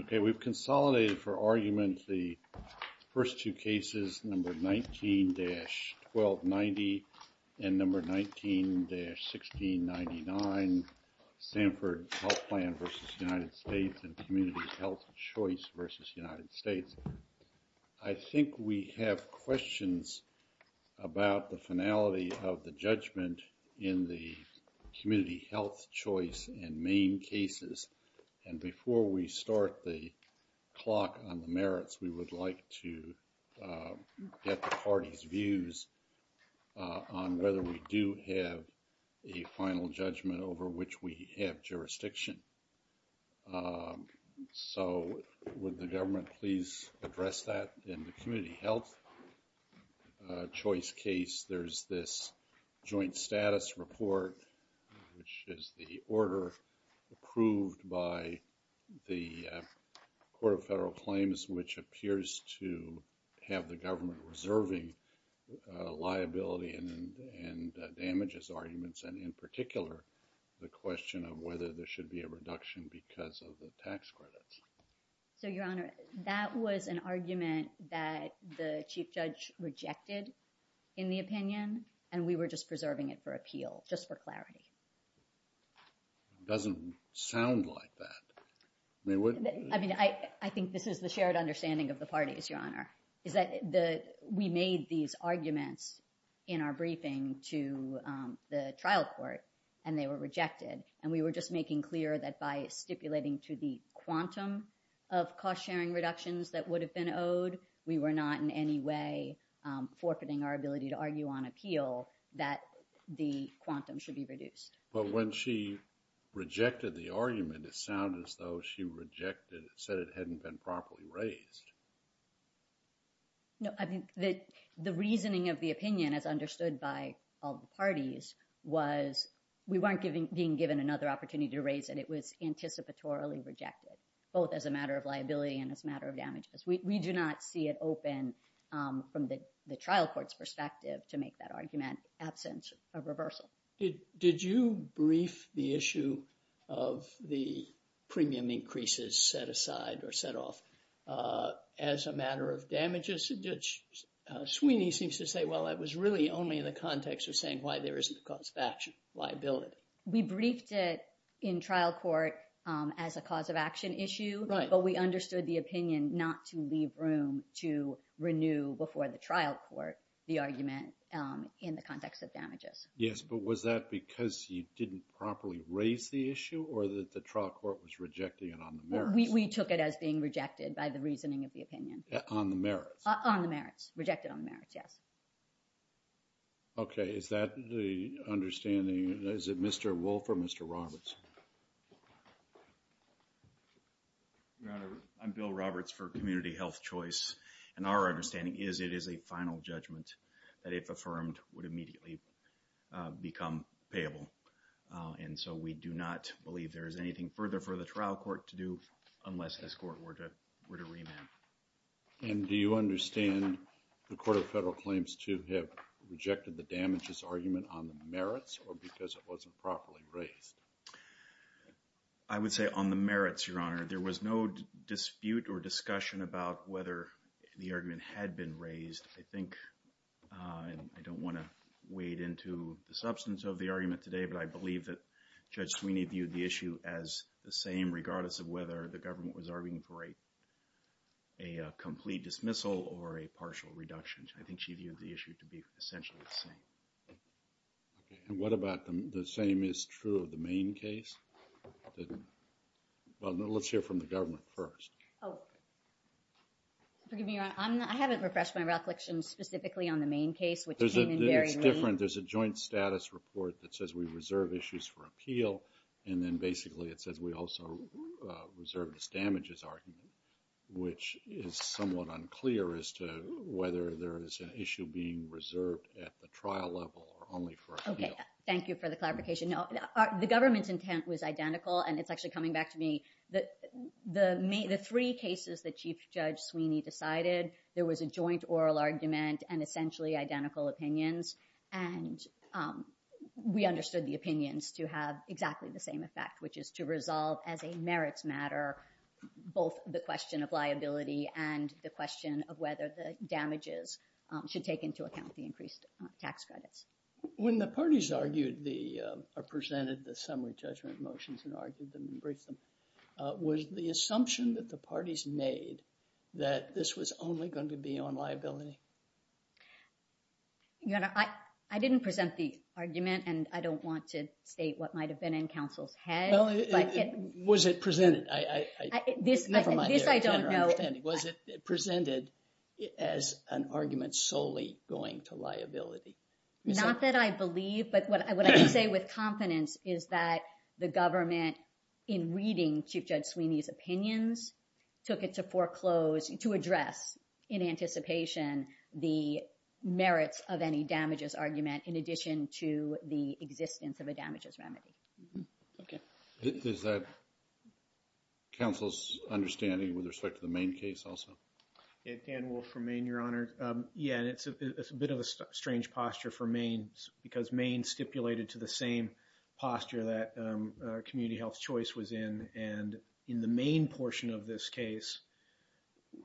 Okay, we've consolidated for argument the first two cases, number 19-1290 and number 19-1699, Sanford Health Plan v. United States and Community Health Choice v. United States. I think we have questions about the finality of the judgment in the community health choice and main cases. And before we start the clock on the merits, we would like to get the party's views on whether we do have a final judgment over which we have jurisdiction. So, would the government please address that in the community health choice case? There's this joint status report, which is the order approved by the Court of Federal Claims, which appears to have the government reserving liability and damages arguments, and in particular, the question of whether there should be a reduction because of the tax credits. So, Your Honor, that was an argument that the Chief Judge rejected in the opinion, and we were just preserving it for appeal, just for clarity. Doesn't sound like that. I mean, I think this is the shared understanding of the parties, Your Honor, is that we made these arguments in our briefing to the trial court, and they were rejected. And we were just making clear that by stipulating to the quantum of cost-sharing reductions that would have been owed, we were not in any way forfeiting our ability to argue on appeal that the quantum should be reduced. But when she rejected the argument, it sounded as though she rejected it, said it hadn't been properly raised. No, I mean, the reasoning of the opinion, as understood by all the parties, was we weren't being given another opportunity to raise it. It was anticipatorily rejected, both as a matter of liability and as a matter of damages. We do not see it open from the trial court's perspective to make that argument absent of reversal. Did you brief the issue of the premium increases set aside or set off as a matter of damages? Sweeney seems to say, well, that was really only in the context of saying why there isn't a cause of action liability. We briefed it in trial court as a cause of action issue, but we understood the opinion not to leave room to renew before the trial court the argument in the context of damages. Yes, but was that because you didn't properly raise the issue or that the trial court was rejecting it on the merits? We took it as being rejected by the reasoning of the opinion. On the merits? On the merits. Rejected on the merits, yes. Okay. Is that the understanding? Is it Mr. Wolf or Mr. Roberts? Your Honor, I'm Bill Roberts for Community Health Choice, and our understanding is it is a final judgment that if affirmed would immediately become payable, and so we do not believe there is anything further for the trial court to do unless this court were to remand. And do you understand the court of federal claims to have rejected the damages argument on the merits? I would say on the merits, Your Honor. There was no dispute or discussion about whether the argument had been raised. I think, and I don't want to wade into the substance of the argument today, but I believe that Judge Sweeney viewed the issue as the same regardless of whether the government was arguing for a complete dismissal or a partial reduction. I think she viewed the issue to be essentially the same. And what about the same is true of the main case? Well, let's hear from the government first. Oh, forgive me, Your Honor. I haven't refreshed my reflection specifically on the main case, which came in very late. There's a joint status report that says we reserve issues for appeal, and then basically it says we also reserve this damages argument, which is somewhat unclear as to whether there is an issue being reserved at the trial level or only for appeal. Okay, thank you for the clarification. No, the government's intent was identical, and it's actually coming back to me that the three cases that Chief Judge Sweeney decided, there was a joint oral argument and essentially identical opinions. And we understood the opinions to have exactly the same effect, which is to resolve as a merits matter both the question of liability and the question of whether the damages should take into account the increased tax credit. When the parties presented the summary judgment motions and argued them and briefed them, was the assumption that the parties made that this was only going to be on liability? Your Honor, I didn't present the argument, and I don't want to state what might have been in counsel's head. Was it presented? This I don't know. Was it presented as an argument solely going to liability? Not that I believe, but what I would say with confidence is that the government in reading Chief Judge Sweeney's opinions took it to foreclose, to address in anticipation the merits of any damages argument in addition to the existence of a damages remedy. Is that counsel's understanding with respect to the main case also? Ed Handwolf from Maine, Your Honor. Yeah, and it's a bit of a strange posture for Maine because Maine stipulated to the same posture that Community Health Choice was in. And in the Maine portion of this case,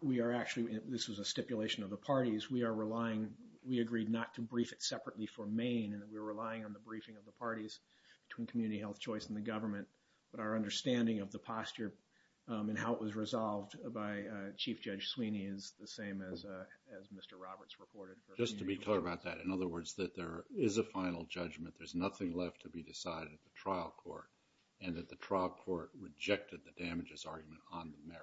we are actually, this was a stipulation of the parties, we are relying, we agreed not to brief it separately for Maine, and we're relying on the briefing of the parties between Community Health Choice and the government, but our understanding of the posture and how it was resolved by Chief Judge Sweeney is the same as Mr. Roberts reported. Just to be clear about that, in other words, that there is a final judgment, there's nothing left to be decided at the trial court, and that the trial court rejected the damages argument on the merit.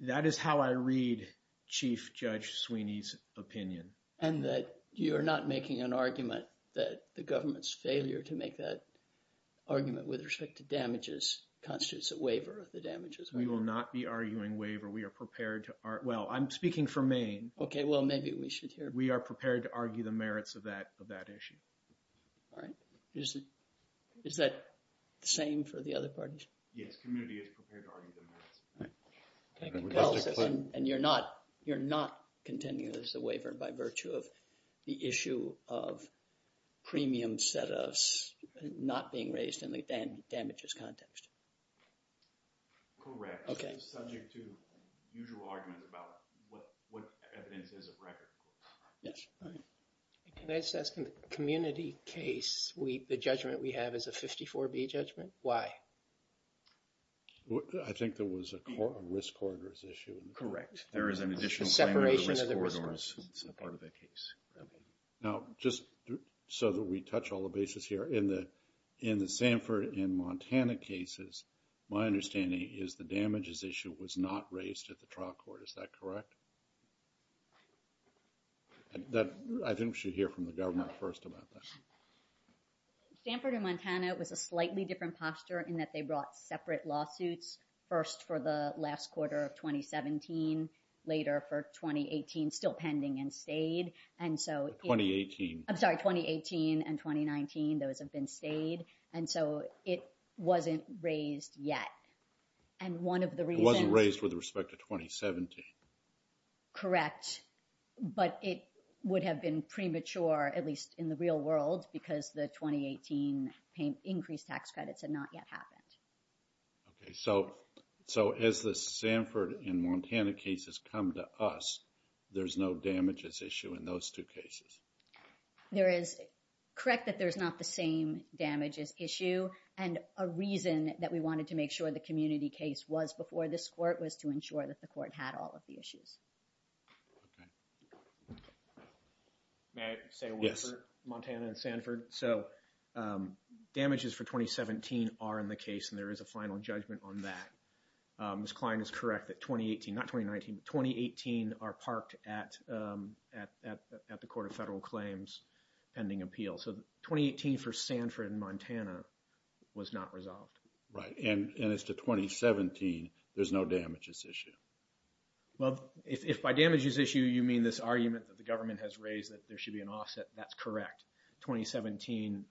That is how I read Chief Judge Sweeney's opinion. And that you're not making an argument that the constitutes a waiver of the damages? We will not be arguing waiver. We are prepared to... Well, I'm speaking for Maine. Okay, well, maybe we should hear... We are prepared to argue the merits of that issue. All right. Is that the same for the other parties? Yes, Community is prepared to argue. And you're not continuing as a waiver by virtue of the issue of premium set-ups not being raised in the damages context? Correct. Okay. It's subject to usual arguments about what evidence is a record. Yes. All right. Can I just ask, Community case, the judgment we have is a 54B judgment? Why? I think there was a risk-coordinated issue. Correct. There is an additional... Separation of the risk-coordinated part of the case. Now, just so that we touch all the bases here, in the Sanford and Montana cases, my understanding is the damages issue was not raised at the trial court. Is that correct? But I think we should hear from the government first about that. Sanford and Montana was a slightly different posture in that they brought separate lawsuits, first for the last quarter of 2017, later for 2018, still pending and stayed. And so... 2018. I'm sorry, 2018 and 2019, those have been stayed. And so it wasn't raised yet. And one of the reasons... It wasn't raised with respect to 2017. Correct. But it would have been premature, at least in the real world, because the 2018 increased tax credits had not yet happened. Okay. So, as the Sanford and Montana cases come to us, there's no damages issue in those two cases? There is... Correct that there's not the same damages issue. And a reason that we wanted to make sure the community case was before this court was to ensure that the court had all of the issues. May I say one thing? Yes. So, damages for 2017 are in the case and there is a final judgment on that. Ms. Klein is correct that 2018, not 2019, 2018 are parked at the Court of Federal Claims pending appeal. So, 2018 for Sanford and Montana was not resolved. Right. And as to 2017, there's no damages issue. Well, if by damages issue you mean this argument that the government has raised that there should be an offset, that's correct. 2017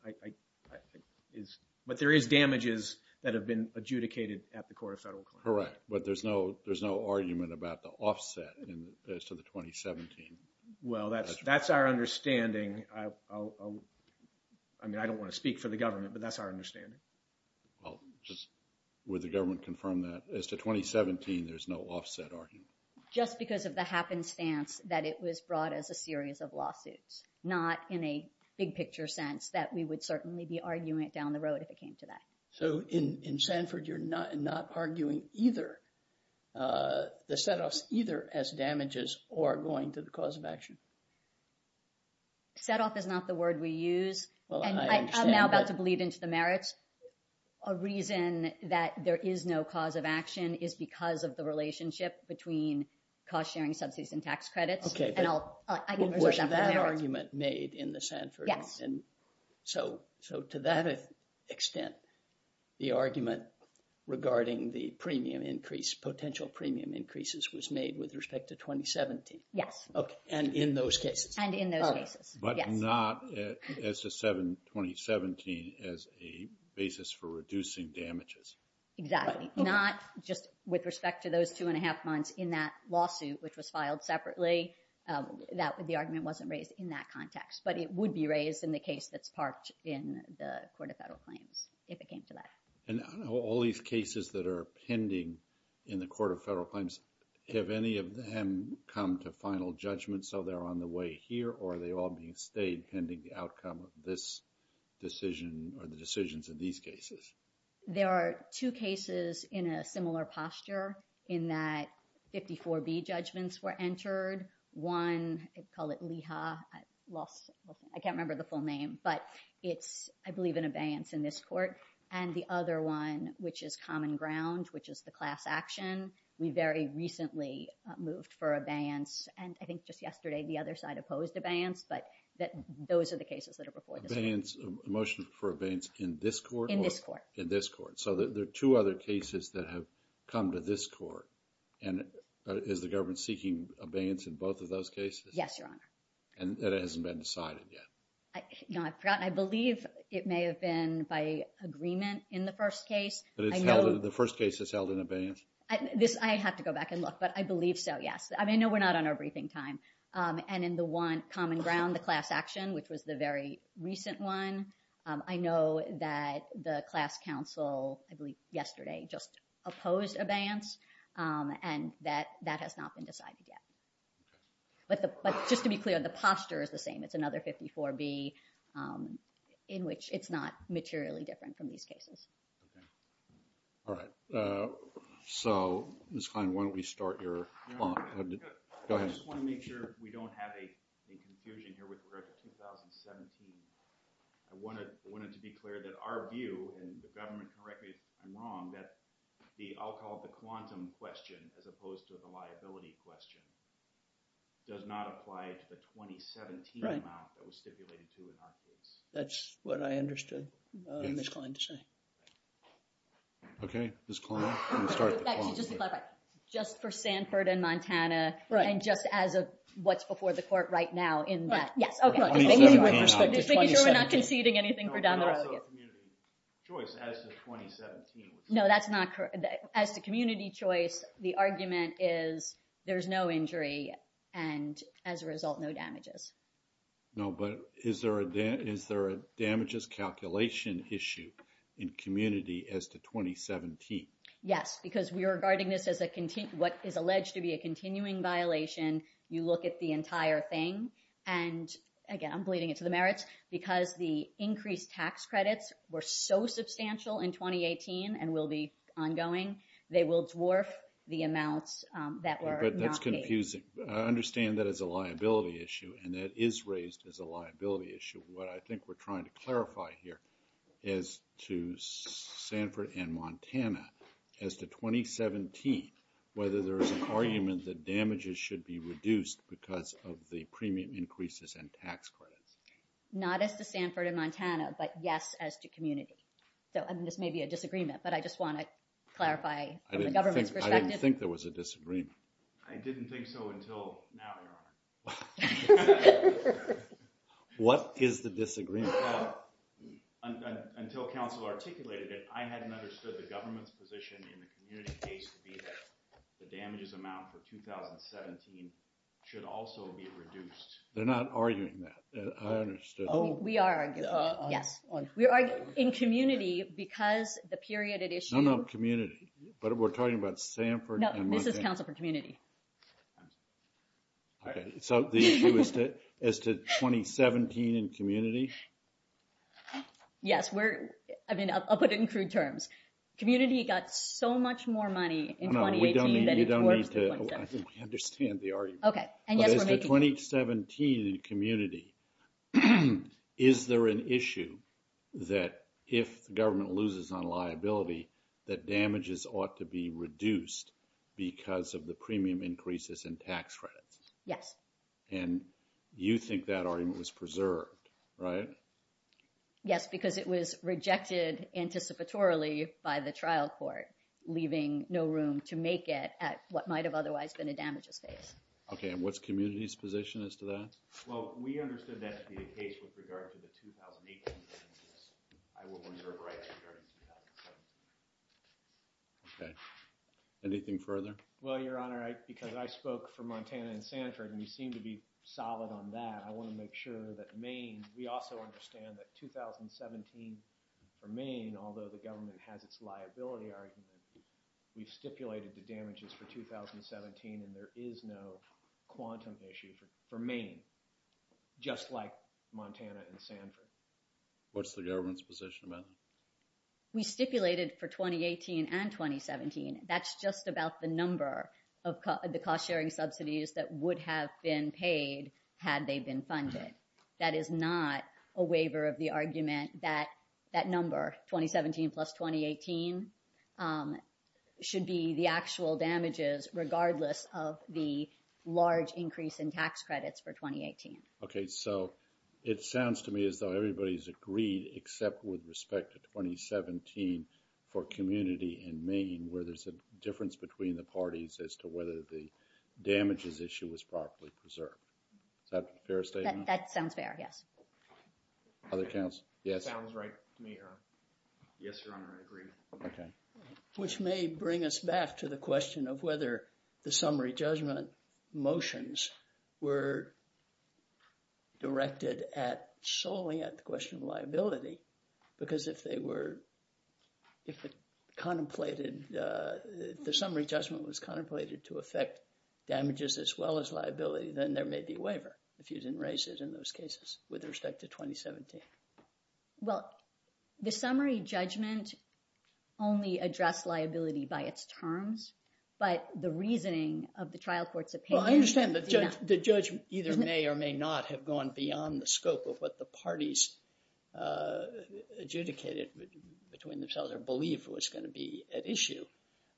is... But there is damages that have been adjudicated at the Court of Federal Claims. Correct. But there's no argument about the offset as to the 2017. Well, that's our understanding. I mean, I don't want to speak for the government, but that's our understanding. Well, just would the government confirm that as to 2017, there's no offset argument? Just because of the happenstance that it was brought as a series of lawsuits, not in a big picture sense that we would certainly be arguing it down the road if it came to that. So, in Sanford, you're not arguing either, the setoffs either as damages or going to the cause of action? Setoff is not the word we use. Well, I understand that. I'm now about to bleed into the merits. A reason that there is no cause of action is because of the relationship between cost-sharing subsidies and tax credits. Okay. Was that argument made in the Sanford? Yes. And so, to that extent, the argument regarding the premium increase, potential premium increases was made with respect to 2017? Yes. Okay. And in those cases? And in those cases. But not as to 2017 as a basis for reducing damages. Exactly. Not just with respect to those two and a half months in that lawsuit, which was filed separately. The argument wasn't raised in that context, but it would be raised in the case that's parked in the Court of Federal Claims if it came to that. And all these cases that are pending in the Court of Federal Claims, have any of them come to final judgment so they're on the way here, or are they all being stayed pending the outcome of this decision or the decisions of these cases? There are two cases in a similar posture in that 54B judgments were entered. One, they call it LEHA. I can't remember the full name. But it's, I believe, an abeyance in this court. And the other one, which is Common Ground, which is the class action, we very recently moved for abeyance. And I think just yesterday, the other side opposed abeyance. But those are the cases that are before the court. Abeyance, a motion for abeyance in this court? In this court. So there are two other cases that have come to this court. And is the government seeking abeyance in both of those cases? Yes, Your Honor. And that hasn't been decided yet? I believe it may have been by agreement in the first case. But the first case is held in abeyance? I have to go back and look, but I believe so, yes. I know we're not on our briefing time. And in the one, Common Ground, the class action, which was the very recent one, I know that the class counsel, I believe yesterday, just opposed abeyance. And that has not been decided yet. But just to be clear, the posture is the same. It's another 54B in which it's not materially different from these cases. All right. So, Ms. Klein, why don't we start here? Go ahead. I just want to make sure we don't have a confusion here, but I wanted to be clear that our view, and the government correct me if I'm wrong, that the alcohol, the quantum question, as opposed to the liability question, does not apply to the 2017 amount that was stipulated to the hospital. That's what I understood Ms. Klein to say. Okay, Ms. Klein. Just for Stanford and Montana, and just as of what's before the court right now. Yes. As the community choice, the argument is there's no injury, and as a result, no damages. No, but is there a damages calculation issue in community as to 2017? Yes, because we're regarding this as what is alleged to be a continuing violation. You look at the entire thing, and again, I'm bleeding it to the merits, because the increased tax credits were so substantial in 2018, and will be ongoing. They will dwarf the amounts that were not paid. That's confusing. I understand that it's a liability issue, and that is raised as a liability issue. What I think we're trying to clarify here is to Stanford and Montana, as to 2017, whether there is an argument that damages should be reduced, because of the premium increases and tax credit. Not as to Stanford and Montana, but yes, as to community. So, I mean, this may be a disagreement, but I just want to clarify from the government's perspective. I didn't think there was a disagreement. I didn't think so until now, Your Honor. What is the disagreement? Until counsel articulated it, I hadn't understood the government's position in the community case to be that the damages amount for 2017 should also be reduced. They're not arguing that. I understood. Oh, we are, yes. We're arguing in community, because the period at issue... No, no, community. But we're talking about Stanford and Montana. No, this is counsel for community. So, the issue is to 2017 in community? Yes, we're... I mean, I'll put it in crude terms. Community got so much more money in 2018 than it was... No, we don't need to... I think we understand the argument. Okay, and yet we're making... But it's a 2017 in community. Is there an issue that if government loses on liability, that damages ought to be reduced because of the premium increases and tax credits? Yes. And you think that argument was preserved, right? Yes, because it was rejected anticipatorily by the trial court, leaving no room to make it at what might have otherwise been a damages case. Okay. And what's community's position as to that? Well, we understood that to be the case with regard to the 2018. I would wonder if... Okay. Anything further? Well, Your Honor, because I spoke for Montana and Stanford, and you seem to be solid on that. I want to make sure that Maine... We also understand that 2017 for Maine, although the government has its liability argument, we've stipulated the damages for 2017, and there is no quantum issue for Maine, just like Montana and Stanford. What's the government's position, then? We stipulated for 2018 and 2017. That's just about the number of the cost-sharing subsidies that would have been paid had they been funded. That is not a waiver of the argument that that number, 2017 plus 2018, should be the actual damages, regardless of the large increase in tax credits for 2018. Okay. So it sounds to me as though everybody's agreed, except with respect to 2017 for community in Maine, where there's a difference between the parties as to whether the damages issue was properly preserved. Is that a fair statement? That sounds fair, yes. Other comments? Yes. Sounds right to me, Your Honor. Yes, Your Honor, I agree. Okay. Which may bring us back to the question of whether the summary judgment motions were directed at solely at the question of liability, because if they were... If the summary judgment was contemplated to affect damages as well as liability, then there may be a waiver, if you didn't raise it in those cases with respect to 2017. Well, the summary judgment only addressed liability by its terms, but the reasoning of the trial court's opinion... Well, I understand the judgment either may or may not have gone beyond the scope of what the parties adjudicated between themselves or believed was going to be at issue.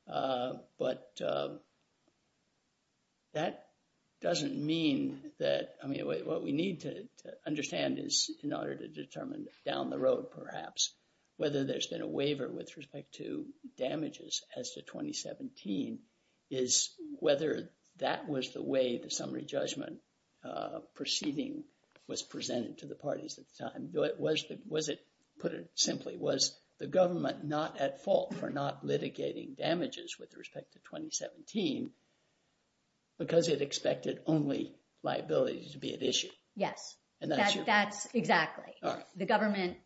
But that doesn't mean that... I mean, what we need to understand is, in order to determine down the road, perhaps, whether there's been a waiver with respect to damages as to 2017, is whether that was the way the summary judgment proceeding was presented to the parties at the time. Was it... Put it simply, was the government not at fault for not litigating damages with respect to 2017, because it expected only liabilities to be at issue? Yes, that's exactly. The government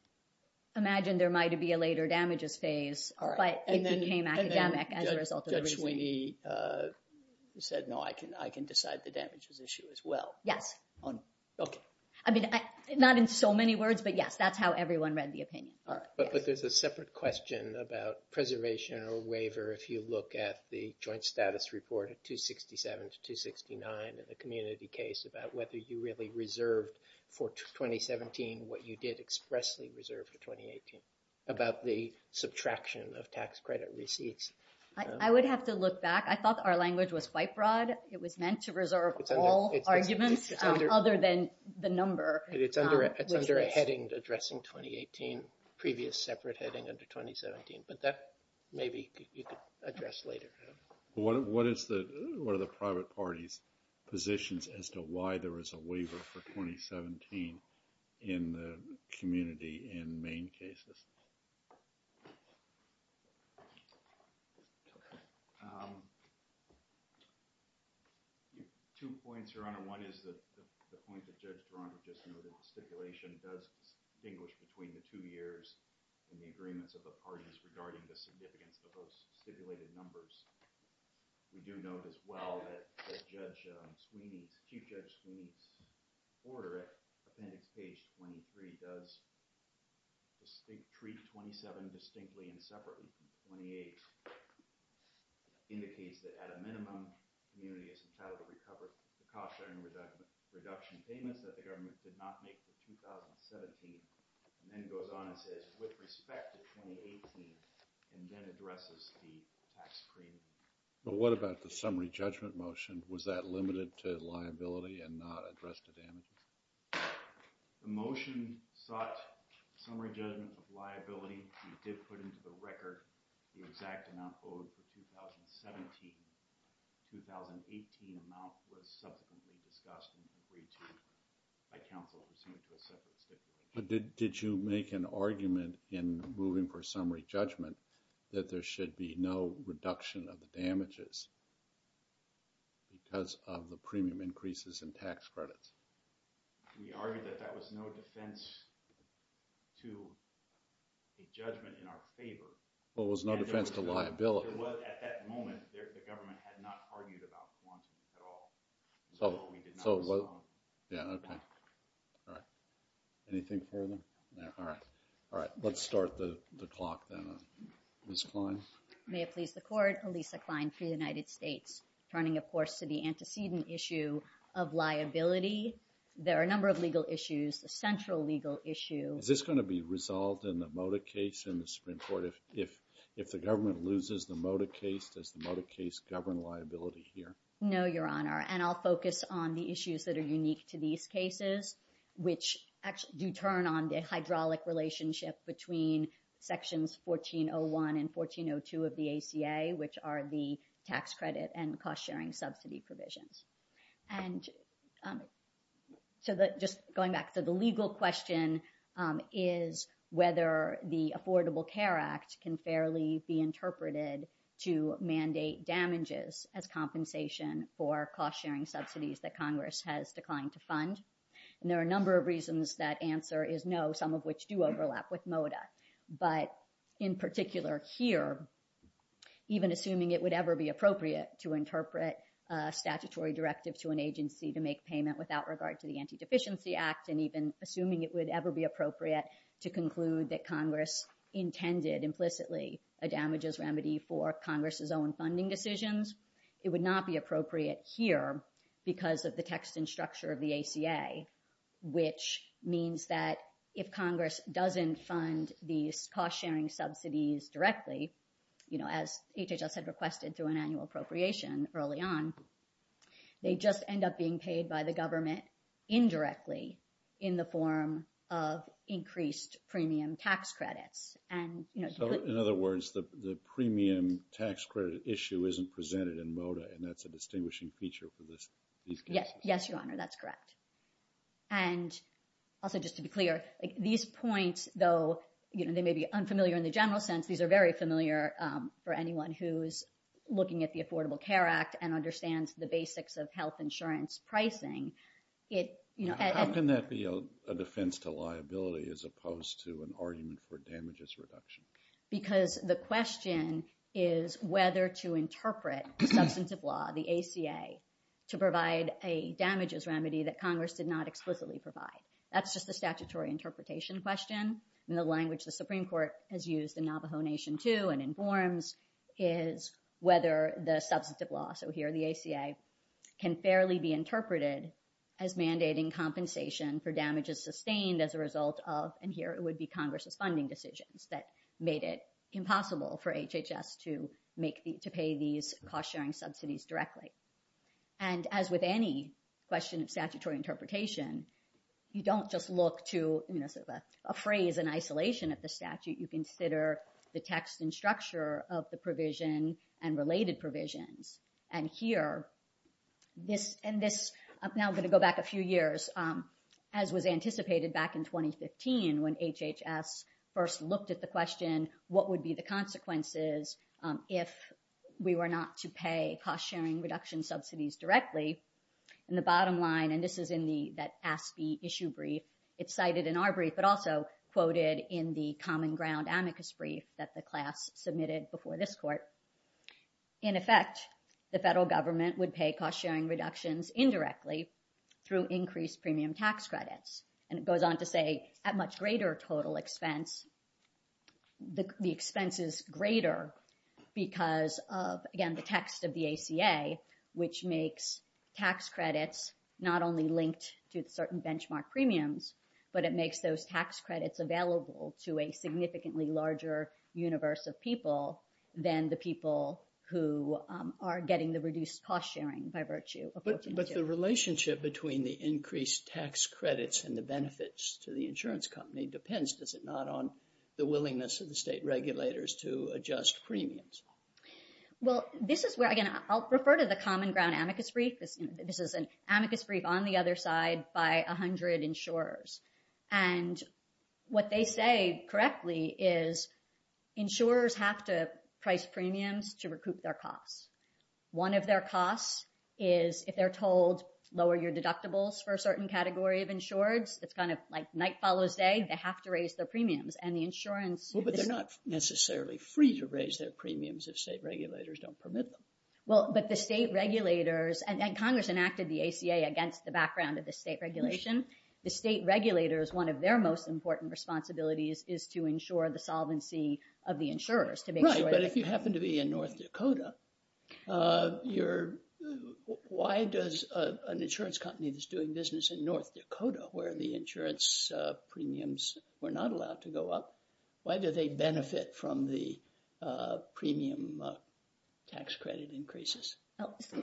imagined there might be a later damages phase, but it became academic as a result of everything. And then Judge Sweeney said, no, I can decide the damages issue as well. Yes. Okay. I mean, not in so many words, but yes, that's how everyone read the opinion. But there's a separate question about preservation or waiver if you look at the joint status report of 267 to 269 and the community case about whether you really reserved for 2017 what you did expressly reserve for 2018 about the subtraction of tax credit receipts. I would have to look back. I thought our language was quite broad. It was meant to reserve all arguments other than the number. It's under a heading addressing 2018, previous separate heading under 2017, but that maybe you could address later. What is the, what are the private parties positions as to why there was a waiver for 2017 in the community in main cases? Two points, Your Honor. One is the point that Judge Braun just noted, stipulation does distinguish between the two years and the agreements of the parties regarding the significance of those stipulated numbers. We do know as well that Judge Sweeney, Chief Judge Sweeney's order at page 23 does treat 27 distinctly and separately from 28. Indicates that at a minimum community has entirely recovered the cost and reduction payments that the government did not make for 2017. And then goes on to with respect to 2018 and then addresses the tax credit. But what about the summary judgment motion? Was that limited to liability and not addressed to them? The motion sought summary judgment of liability. We did put into the record the exact amount that was proposed for 2017. 2018 amounts were substantively adjusted by counsel to some extent. Did you make an argument in moving for summary judgment that there should be no reduction of the damages because of the premium increases in tax credits? We argued that that was no defense to the judgment in our favor. Well, there's no defense to liability. There was at that moment, the government had not argued about one at all. So, yeah, okay. Anything further? Yeah, all right. All right, let's start the clock then, Ms. Klein. May it please the court, Elisa Klein for the United States. Turning, of course, to the antecedent issue of liability. There are a number of legal issues. The central legal issue. Is this going to be resolved in the mode of case if the government loses the mode of case? Does the mode of case govern liability here? No, Your Honor, and I'll focus on the issues that are unique to these cases, which actually do turn on the hydraulic relationship between sections 1401 and 1402 of the ACA, which are the tax credit and the cost-sharing subsidy provisions. And just going back to the legal question is whether the Affordable Care Act can fairly be interpreted to mandate damages as compensation for cost-sharing subsidies that Congress has declined to fund. And there are a number of reasons that answer is no, some of which do overlap with MODA. But in particular here, even assuming it would ever be appropriate to interpret a statutory directive to an agency to make payment without regard to the Antideficiency Act, and even assuming it would ever be appropriate to conclude that Congress intended implicitly a damages remedy for Congress's own funding decisions, it would not be appropriate here because of the text and structure of the ACA, which means that if Congress doesn't fund these cost-sharing subsidies directly, you know, as HHS had requested through an annual appropriation early on, they just end up being paid by the government indirectly. In the form of increased premium tax credits. And, you know- So in other words, the premium tax credit issue isn't presented in MODA, and that's a distinguishing feature for this- Yes, yes, your honor, that's correct. And also just to be clear, these points though, you know, they may be unfamiliar in the general sense. These are very familiar for anyone who's looking at the Affordable Care Act and understands the basics of health insurance pricing. It, you know- How can that be a defense to liability as opposed to an argument for damages reduction? Because the question is whether to interpret substantive law, the ACA, to provide a damages remedy that Congress did not explicitly provide. That's just a statutory interpretation question. And the language the Supreme Court has used in Navajo Nation too and informs is whether the substantive law, so here the ACA, can fairly be interpreted as mandating compensation for damages sustained as a result of, and here it would be Congress's funding decisions that made it impossible for HHS to pay these cost-sharing subsidies directly. And as with any question of statutory interpretation, you don't just look to, you know, a phrase in isolation of the statute. You consider the text and structure of the provision and related provisions. And here, this, and this, I'm now going to go back a few years, as was anticipated back in 2015 when HHS first looked at the question, what would be the consequences if we were not to pay cost-sharing reduction subsidies directly? And the bottom line, and this is in the, that asked the issue brief, it's cited in our brief, but also quoted in the common ground amicus brief that the class submitted before this court. In effect, the federal government would pay cost-sharing reductions indirectly through increased premium tax credits. And it goes on to say, at much greater total expense, the expense is greater because of, again, the text of the ACA, which makes tax credits not only linked to certain benchmark premiums, but it makes those tax credits available to a significantly larger universe of people than the people who are getting the reduced cost-sharing by virtue. But the relationship between the increased tax credits and the benefits to the insurance company depends, does it not, on the willingness of the state regulators to adjust premiums? Well, this is where, again, I'll refer to the common ground amicus brief. This is an amicus brief on the other side by a hundred insurers. And what they say correctly is insurers have to price premiums to recoup their costs. One of their costs is, if they're told, lower your deductibles for a certain category of insureds, it's kind of like night follows day, they have to raise their premiums. And the insurance- Well, but they're not necessarily free to raise their premiums if state regulators don't permit them. Well, but the state regulators, and Congress enacted the ACA against the background of the state regulation. The state regulators, one of their most important responsibilities is to ensure the solvency of the insurers. Right, but if you happen to be in North Dakota, why does an insurance company that's doing business in North Dakota, where the insurance premiums were not allowed to go up, why do they benefit from the premium tax credit increases?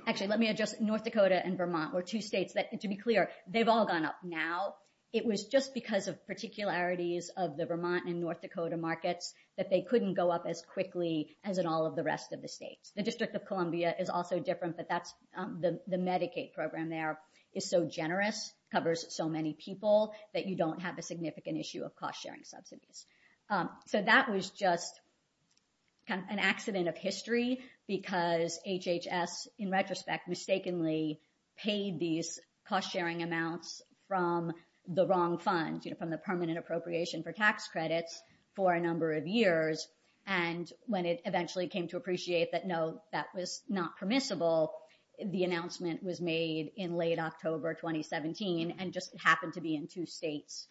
Actually, let me address North Dakota and Vermont were two states that, to be clear, they've all gone up. Now, it was just because of particularities of the Vermont and North Dakota markets that they couldn't go up as quickly as in all of the rest of the state. The District of Columbia is also different, but the Medicaid program there is so generous, covers so many people that you don't have a significant issue of cost-sharing subsidies. So that was just an accident of history because HHS, in retrospect, mistakenly paid these cost-sharing amounts from the wrong funds, from the permanent appropriation for tax credits for a number of years. And when it eventually came to appreciate that no, that was not permissible, the announcement was made in late October, 2017, and just happened to be in two states,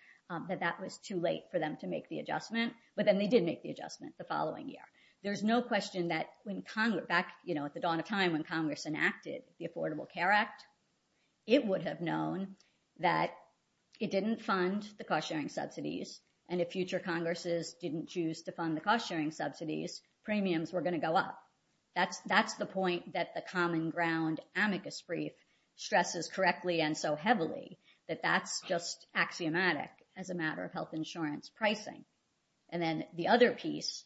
that that was too late for them to make the adjustment. But then they did make the adjustment the following year. There's no question that when Congress, back at the dawn of time when Congress enacted the Affordable Care Act, it would have known that it didn't fund the cost-sharing subsidies. And if future Congresses didn't choose to fund the cost-sharing subsidies, premiums were gonna go up. That's the point that the common ground amicus brief stresses correctly and so heavily, that that's just axiomatic as a matter of health insurance pricing. And then the other piece,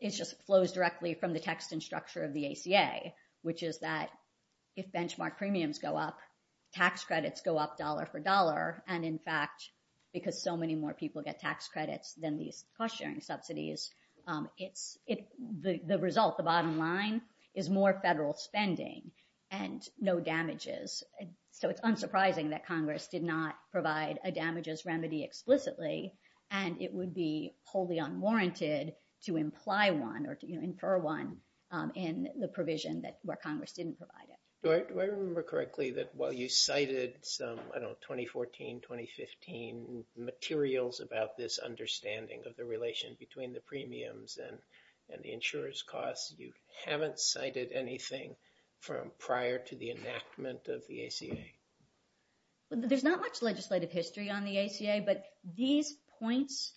it just flows directly from the text and structure of the ACA, which is that if benchmark premiums go up, tax credits go up dollar for dollar. And in fact, because so many more people get tax credits than these cost-sharing subsidies, the result, the bottom line, is more federal spending and no damages. So it's unsurprising that Congress did not provide a damages remedy explicitly, and it would be wholly unwarranted to imply one or to infer one in the provision that where Congress didn't provide it. Do I remember correctly that while you cited some, I don't know, 2014, 2015 materials about this understanding of the relation between the premiums and the insurer's costs, you haven't cited anything from prior to the enactment of the ACA? There's not much legislative history on the ACA, but these points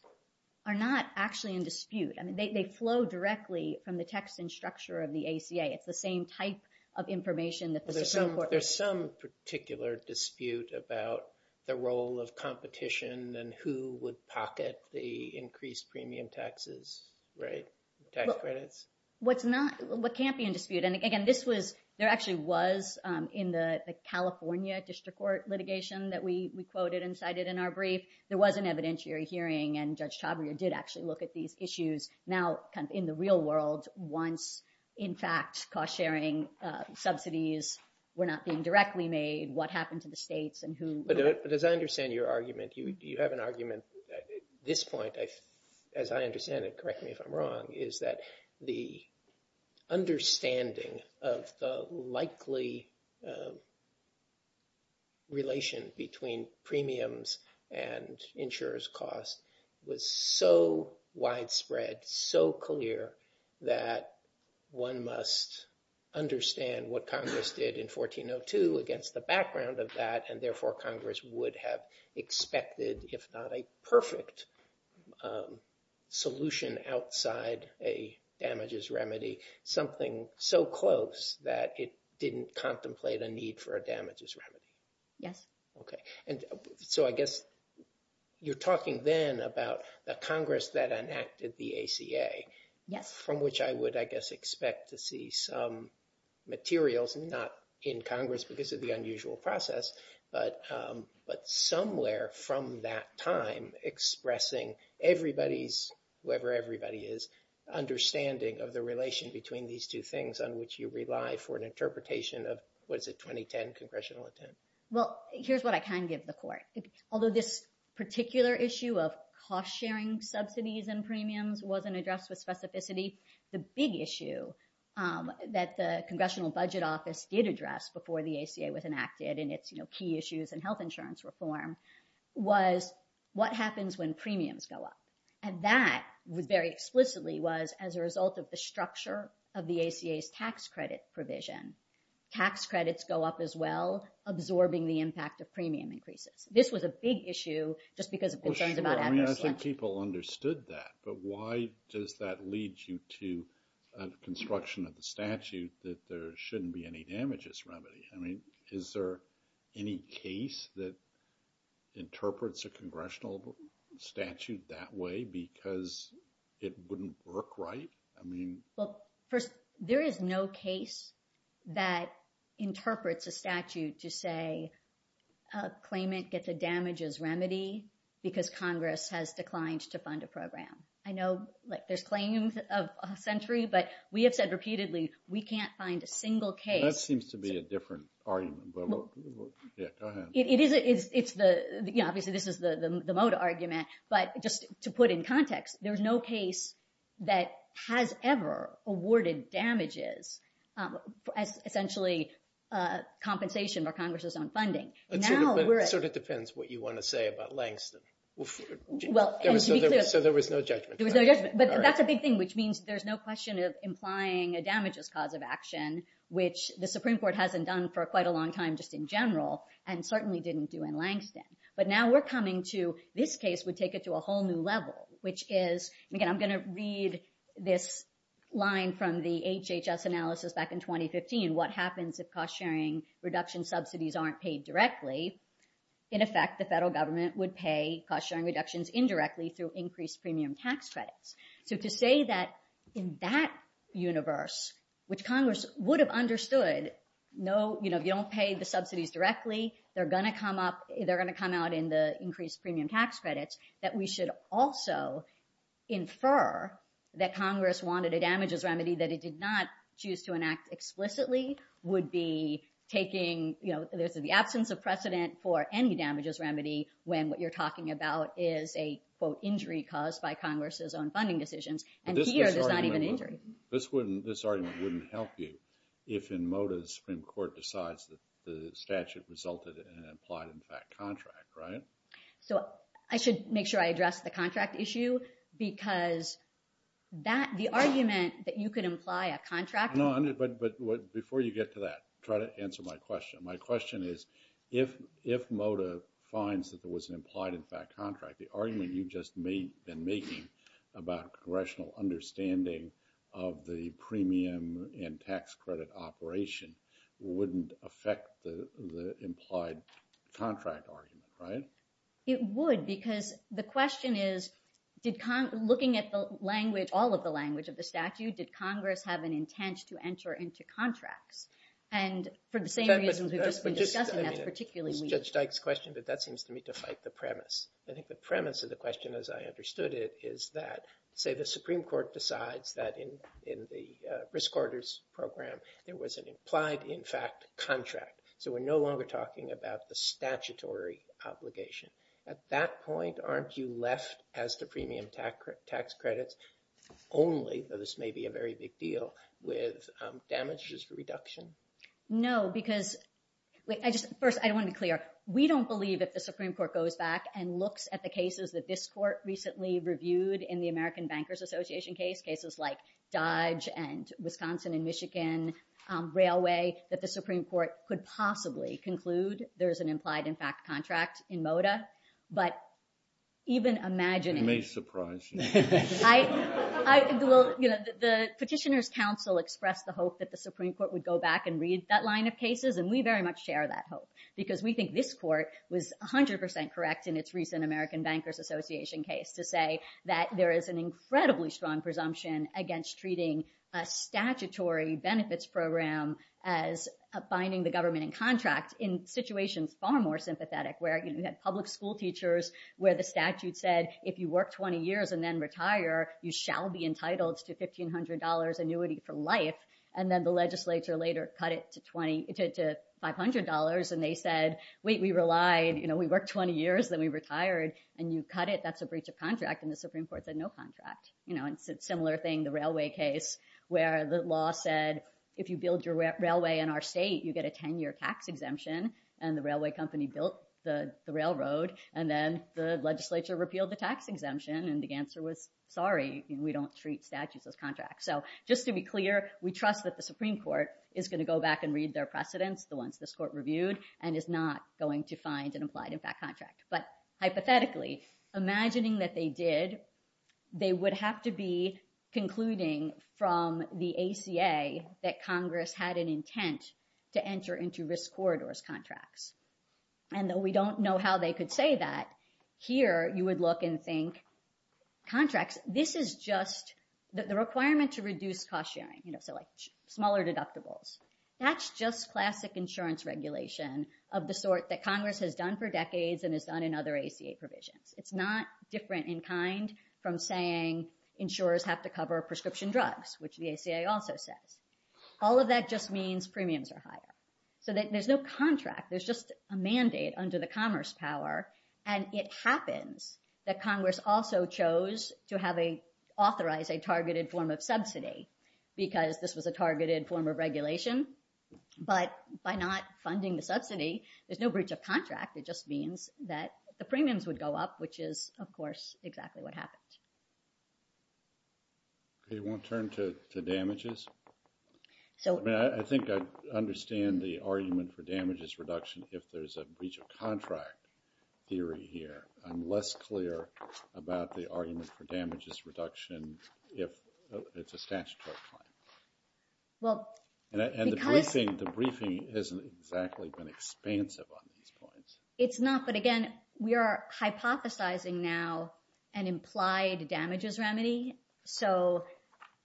are not actually in dispute. I mean, they flow directly from the text and structure of the ACA. It's the same type of information that the Supreme Court- There's some particular dispute about the role of competition and who would pocket the increased premium taxes, right? What's not, what can't be in dispute, and again, this was, there actually was in the California district court litigation that we quoted and cited in our brief, there was an evidentiary hearing and Judge Tavner did actually look at these issues now in the real world once, in fact, cost-sharing subsidies were not being directly made, what happened to the states and who- But as I understand your argument, you have an argument at this point, as I understand it, correct me if I'm wrong, is that the understanding of the likely relation between premiums and insurer's costs was so widespread, so clear that one must understand what Congress did in 1402 against the background of that, and therefore Congress would have expected, if not a perfect solution outside a damages remedy, something so close that it didn't contemplate a need for a damages remedy. Yes. Okay, and so I guess you're talking then about the Congress that enacted the ACA, from which I would, I guess, expect to see some materials, not in Congress because of the unusual process, but somewhere from that time expressing everybody's, whoever everybody is, understanding of the relation between these two things on which you rely for an interpretation of what is a 2010 congressional attempt. Well, here's what I can give the court. Although this particular issue of cost-sharing subsidies and premiums wasn't addressed with specificity, the big issue that the Congressional Budget Office did address before the ACA was enacted and its key issues in health insurance reform was what happens when premiums go up. And that very explicitly was as a result of the structure of the ACA's tax credit provision. Tax credits go up as well, absorbing the impact of premium increases. This was a big issue just because it depends about- I mean, I think people understood that, but why does that lead you to a construction of the statute that there shouldn't be any damages remedy? I mean, is there any case that interprets a congressional statute that way because it wouldn't work right? I mean- Well, there is no case that interprets a statute to say a claimant gets a damages remedy because Congress has declined to fund a program. I know there's claims of a century, but we have said repeatedly, we can't find a single case- That seems to be a different argument, but we'll get to that. It is, it's the- Yeah, obviously this is the Mota argument, but just to put in context, there's no case that has ever awarded damages as essentially compensation for Congress's own funding. Now we're- It sort of depends what you want to say about Langston. So there was no judgment. But that's a big thing, which means there's no question of implying a damages cause of action, which the Supreme Court hasn't done for quite a long time just in general, and certainly didn't do in Langston. But now we're coming to this case would take it to a whole new level, which is, again, I'm going to read this line from the HHS analysis back in 2015, what happens if cost-sharing reduction subsidies aren't paid directly. In effect, the federal government would pay cost-sharing reductions indirectly through increased premium tax credits. So to say that in that universe, which Congress would have understood, no, if you don't pay the subsidies directly, they're going to come up, they're going to come out in the increased premium tax credits, that we should also infer that Congress wanted a damages remedy that it did not choose to enact explicitly would be taking the absence of precedent for any damages remedy when what you're talking about is a, quote, injury caused by Congress's own funding decisions. And here, there's not even an injury. But this argument wouldn't help you if in modus in court decides that the statute resulted in an implied impact contract, right? So I should make sure I address the contract issue because the argument that you could imply a contract- No, but before you get to that, try to answer my question. My question is, if Moda finds that there was an implied impact contract, the argument you've just been making about congressional understanding of the premium and tax credit operation wouldn't affect the implied contract argument, right? It would, because the question is, looking at the language, all of the language of the statute, did Congress have an intent to enter into contract? And for the same reasons, we've just been discussing that particularly- It's Judge Dyke's question, but that seems to me to fight the premise. I think the premise of the question, as I understood it, is that, say, the Supreme Court decides that in the risk orders program, there was an implied impact contract. So we're no longer talking about the statutory obligation. At that point, aren't you left as the premium tax credit only, though this may be a very big deal, with damages reduction? No, because- First, I want to clear up. We don't believe if the Supreme Court goes back and looks at the cases that this court recently reviewed in the American Bankers Association case, cases like Dodge and Wisconsin and Michigan Railway, that the Supreme Court could possibly conclude there's an implied impact contract in Moda. But even imagining- You may surprise us. The petitioner's counsel expressed the hope that the Supreme Court would go back and read that line of cases, and we very much share that hope, because we think this court was 100% correct in its recent American Bankers Association case to say that there is an incredibly strong presumption against treating a statutory benefits program as finding the government in contract in situations far more sympathetic, where you had public school teachers where the statute said, if you work 20 years and then retire, you shall be entitled to $1,500 annuity for life. And then the legislature later cut it to $500, and they said, wait, we relied, you know, we worked 20 years, then we retired, and you cut it, that's a breach of contract. And the Supreme Court said no contract. You know, it's a similar thing, the railway case, where the law said, if you build your railway in our state, you get a 10-year tax exemption. And the railway company built the railroad, and then the legislature repealed the tax exemption, and the answer was, sorry, we don't treat statutes as contracts. So just to be clear, we trust that the Supreme Court is going to go back and read their precedents, the ones this court reviewed, and is not going to find an implied impact contract. But hypothetically, imagining that they did, they would have to be concluding from the ACA that Congress had an intent to enter into risk corridors contracts. And though we don't know how they could say that, here you would look and think, contracts, this is just, that the requirement to reduce cost sharing, you know, so like smaller deductibles, that's just classic insurance regulation of the sort that Congress has done for decades and has done in other ACA provisions. It's not different in kind from saying insurers have to cover prescription drugs, which the ACA also said. All of that just means premiums are higher. So there's no contract. There's just a mandate under the commerce power. And it happens that Congress also chose to have a, authorize a targeted form of subsidy because this was a targeted form of regulation. But by not funding the subsidy, there's no breach of contract. It just means that the premiums would go up, which is, of course, exactly what happened. It won't turn to damages. So I think I understand the argument for damages reduction. If there's a breach of contract theory here, I'm less clear about the argument for damages reduction. If it's a statutory fine. Well, and the briefing, the briefing hasn't exactly been expansive on these points. It's not, but again, we are hypothesizing now an implied damages remedy. So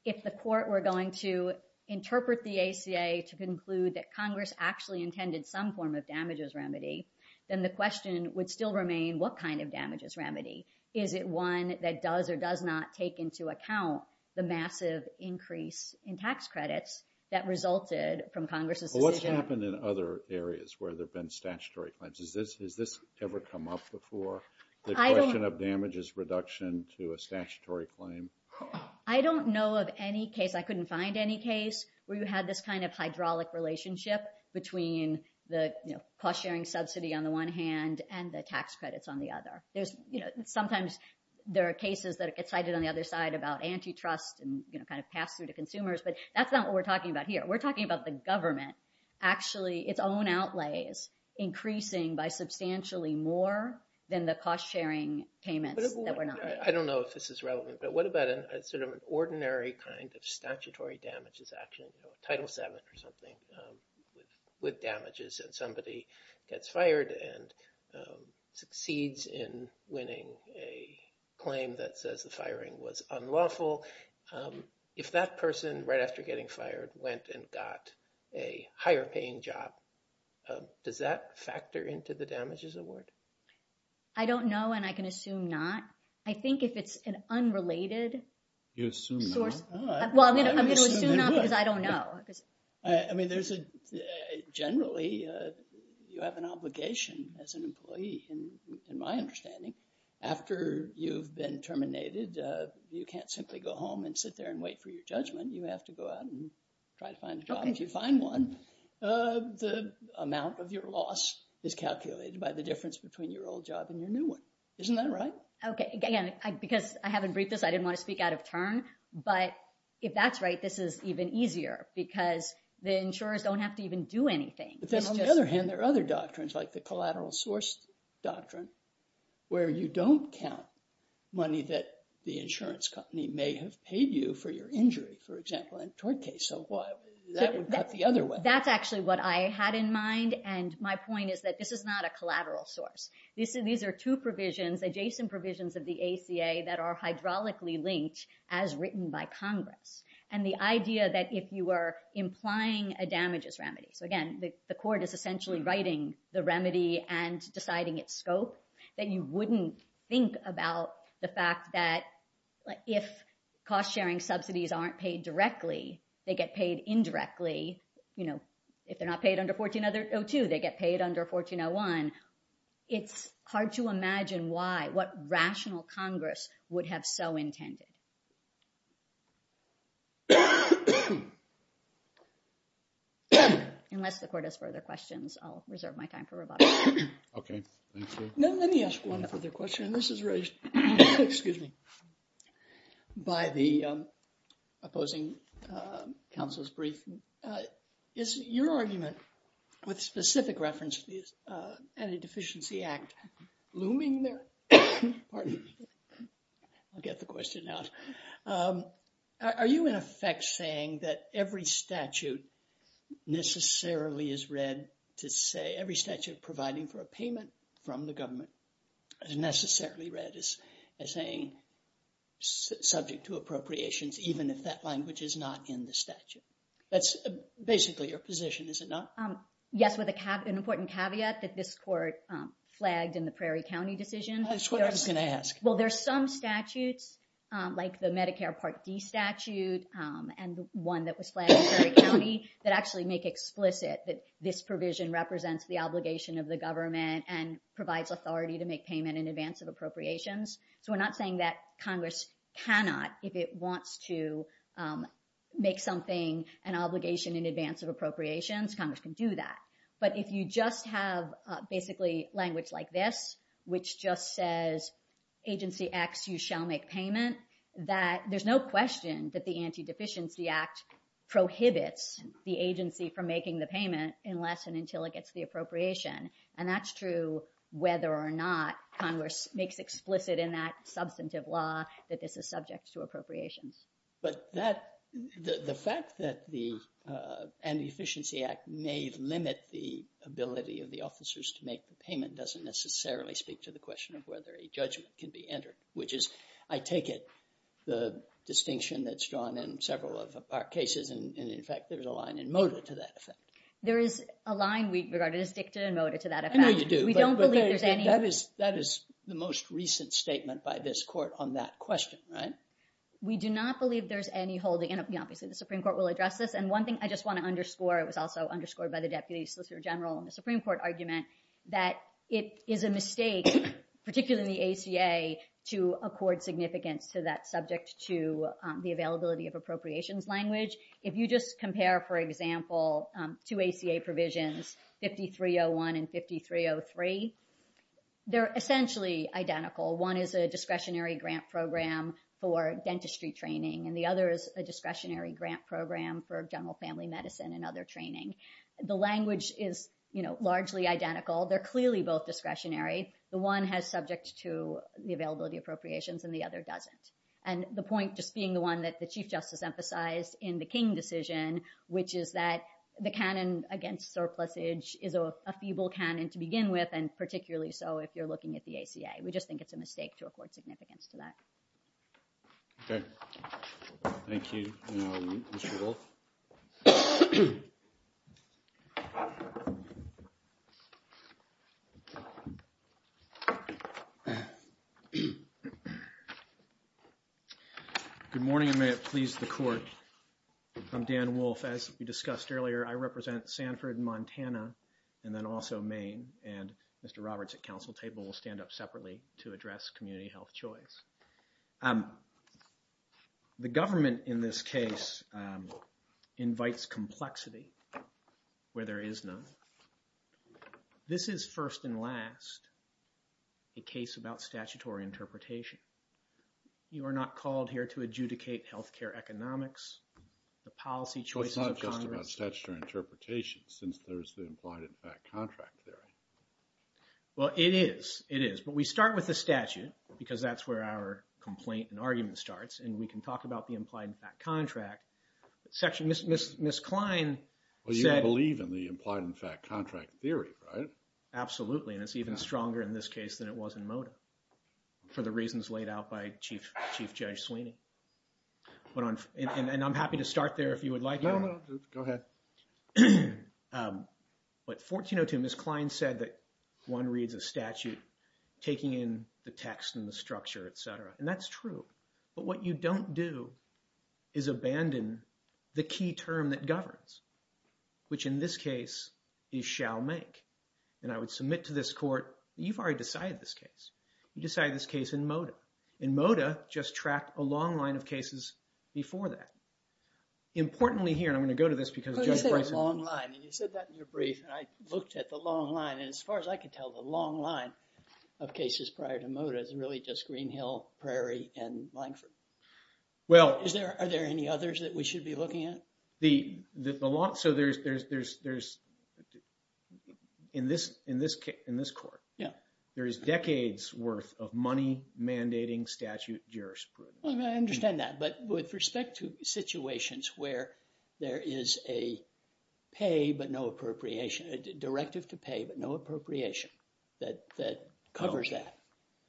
if the court were going to interpret the ACA to conclude that Congress actually intended some form of damages remedy, then the question would still remain what kind of damages remedy? Is it one that does or does not take into account the massive increase in tax credits that resulted from Congress? Well, what's happened in other areas where there's been statutory claims? Is this, has this ever come up before? The question of damages reduction to a statutory claim. I don't know of any case I couldn't find any case where you had this kind of hydraulic relationship between the cost-sharing subsidy on the one hand and the tax credits on the other. There's sometimes there are cases that are cited on the other side about antitrust and kind of pass through to consumers, but that's not what we're talking about here. We're talking about the government actually its own outlays increasing by substantially more than the cost-sharing payment. I don't know if this is relevant, but what about a sort of kind of statutory damages action, title seven or something with damages and somebody gets fired and succeeds in winning a claim that says the firing was unlawful. If that person right after getting fired went and got a higher paying job, does that factor into the damages award? I don't know. And I can assume not. I think if it's an unrelated. You assume not. Well, I'm going to assume not because I don't know. I mean, there's a generally you have an obligation as an employee in my understanding. After you've been terminated, you can't simply go home and sit there and wait for your judgment. You have to go out and try to find a job. If you find one, the amount of your loss is calculated by the difference between your old job and your new one. Isn't that right? Okay. Again, because I haven't briefed this. I didn't want to speak out of turn. But if that's right, this is even easier because the insurers don't have to even do anything. But then on the other hand, there are other doctrines like the collateral source doctrine where you don't count money that the insurance company may have paid you for your injury, for example, in a toy case. So what? That's actually what I had in mind. And my point is that this is not a collateral source. These are two provisions, adjacent provisions of the ACA that are hydraulically linked as written by Congress. And the idea that if you are implying a damages remedy, again, the court is essentially writing the remedy and deciding its scope that you wouldn't think about the fact that if cost sharing subsidies aren't paid directly, they get paid indirectly. If they're not paid under 1402, they get paid under 1401. It's hard to imagine why, what rational Congress would have so intended. Unless the court has further questions, I'll reserve my time for rebuttal. Okay. Let me ask one other question. This is raised, excuse me, by the opposing counsel's brief. Is your argument with specific reference to the Anti-Deficiency Act looming there? Pardon me. I'll get the question now. Are you in effect saying that every statute necessarily is read to say, every statute providing for a payment from the government is necessarily read as saying subject to appropriations, even if that language is not in the statute? That's basically your position, is it not? Yes, with an important caveat that this court flagged in the Prairie County decision. Well, there's some statutes like the Medicare Part D statute and one that was flagged in Prairie County that actually make explicit that this provision represents the obligation of the government and provides authority to make payment in advance of appropriations. So we're not saying that Congress cannot, if it wants to make something, an obligation in advance of appropriations, Congress can do that. But if you just have basically language like this, which just says, agency acts, you shall make payment, that there's no question that the Anti-Deficiency Act prohibits the agency from making the payment unless and until it gets the appropriation. And that's true whether or not Congress makes explicit in that substantive law that this is subject to appropriation. But the fact that the Anti-Deficiency Act may limit the ability of the officers to make the payment doesn't necessarily speak to the question of whether a judgment can be entered, which is, I take it, the distinction that's drawn in several of our cases. And in fact, there's a line in MOTA to that effect. There is a line regarding a stick to a MOTA to that effect. We don't believe there's any. That is the most recent statement by this court on that question, right? We do not believe there's any holding. And obviously, the Supreme Court will address this. And one thing I just want to underscore was also underscored by the Deputy Solicitor General on the Supreme Court argument that it is a mistake, particularly the ACA, to accord significance to that subject to the availability of appropriations language. If you just compare, for example, two ACA provisions, 5301 and 5303, they're essentially identical. One is a discretionary grant program for dentistry training, and the other is a discretionary grant program for general family medicine and other training. The language is largely identical. They're clearly both discretionary. The one has subject to the availability of appropriations, and the other doesn't. And the point, just being the one that the Chief Justice emphasized in the King decision, which is that the canon against surplusage is a feeble canon to begin with, and particularly so if you're looking at the ACA. We just think it's a mistake to accord significance to that. Okay. Thank you, Mr. Ewell. Good morning, and may it please the Court. I'm Dan Wolfe. As we discussed earlier, I represent Sanford and Montana, and then also Maine, and Mr. Roberts at council table will stand up separately to address community health choice. The government in this case invites complexity where there is none. This is first and last a case about statutory interpretation. You are not called here to adjudicate health care economics, the policy choice of Congress. Well, it's not just about statutory interpretation since there's the implied impact contract there. Well, it is. It is. But we start with the statute because that's where our complaint and argument starts, and we can talk about the implied impact contract. Ms. Klein said- Well, you don't believe in the implied impact contract theory, right? Absolutely. And it's even stronger in this case than it was in MOTA for the reasons laid out by Chief Judge Sweeney. And I'm happy to start there if you would like. No, no, just go ahead. But 1402, Ms. Klein said that one reads a statute taking in the text and the structure. And that's true. But what you don't do is abandon the key term that governs, which in this case, he shall make. And I would submit to this court, you've already decided this case. You decided this case in MOTA. And MOTA just tracked a long line of cases before that. Importantly here, and I'm going to go to this because- But you said a long line, and you said that in your brief, and I looked at the long line. And as far as I can tell, the long line of cases prior to MOTA is really just Green Hill, Prairie, and Langford. Are there any others that we should be looking at? In this court, there is decades worth of money mandating statute jurisprudence. Well, I understand that. But with respect to situations where there is a pay, but no appropriation, a directive to pay, but no appropriation that covers that,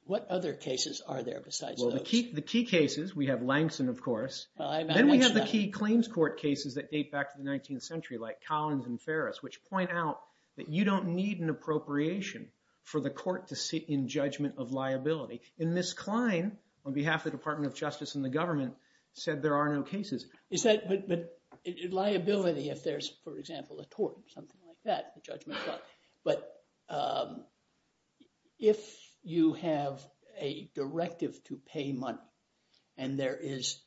what other cases are there besides those? Well, the key cases, we have Langston, of course. Then we have the key claims court cases that date back to the 19th century, like Collins and Ferris, which point out that you don't need an appropriation for the court to sit in judgment of liability. And Ms. Klein, on behalf of the Department of Justice and the government, said there are no cases. Is that liability if there's, for example, a tort, something like that, the judgment of liability. But if you have a directive to pay money and there is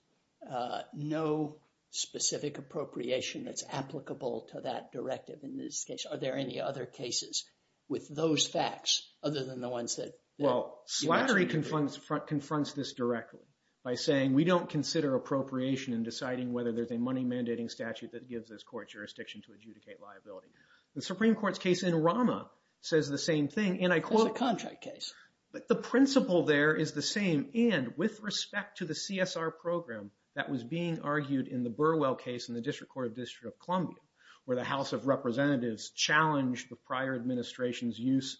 no specific appropriation that's applicable to that directive, in this case, are there any other cases with those facts other than the ones that- Well, Slattery confronts this directly by saying we don't consider appropriation in deciding whether there's a money mandating statute that gives this court jurisdiction to adjudicate liability. The Supreme Court's case in Rama says the same thing, and I quote- The contract case. But the principle there is the same. And with respect to the CSR program that was being argued in the Burwell case in the District Court of District of Columbia, where the House of Representatives challenged the prior administration's use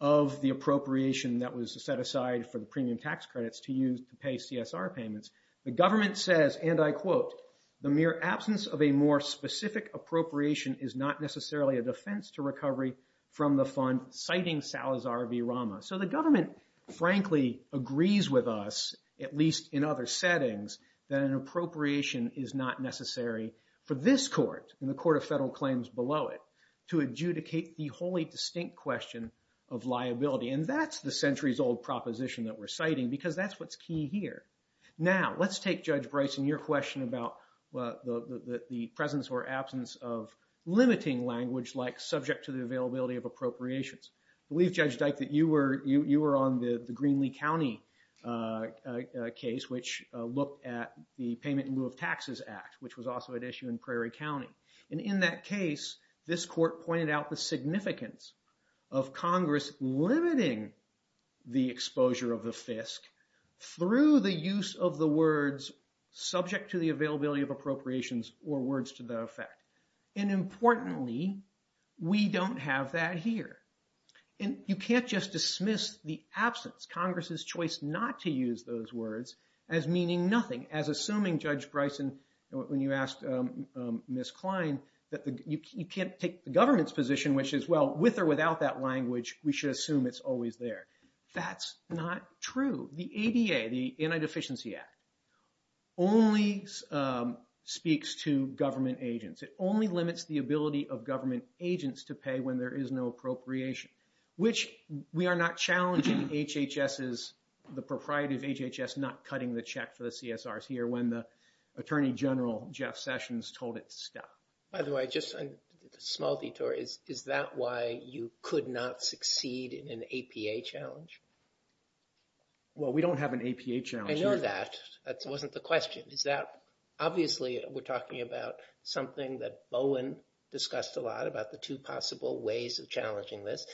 of the appropriation that was set aside for the premium tax credits to use to pay CSR payments. The government says, and I quote, the mere absence of a more specific appropriation is not necessarily a defense to recovery from the fund, citing Salazar v. Rama. So the government, frankly, agrees with us, at least in other settings, that an appropriation is not necessary for this court and the court of federal claims below it to adjudicate the wholly distinct question of liability. And that's the centuries-old proposition that we're citing because that's what's key here. Now, let's take, Judge Bryson, your question about the presence or absence of limiting language like subject to the availability of appropriations. We've judged that you were on the Greenlee County case, which looked at the Payment in Lieu of Taxes Act, which was also at issue in Prairie County. And in that case, this court pointed out the significance of Congress limiting the exposure of a FISC through the use of the words subject to the availability of appropriations or words to that effect. And importantly, we don't have that here. And you can't just dismiss the absence, Congress's choice not to use those words as meaning nothing, as assuming, Judge Bryson, when you asked Ms. Klein, that you can't take the government's position, which is, well, with or without that language, we should assume it's always there. That's not true. The ADA, the Anti-Deficiency Act, only speaks to government agents. It only limits the ability of government agents to pay when there is no appropriation, which we are not challenging HHS's, the propriety of HHS, not cutting the check to the CSRC or when the Attorney General, Jeff Sessions, told it to stop. By the way, just a small detour. Is that why you could not succeed in an APA challenge? Well, we don't have an APA challenge. I know that. That wasn't the question. Is that, obviously, we're talking about something that Bowen discussed a lot about the two possible ways of challenging this.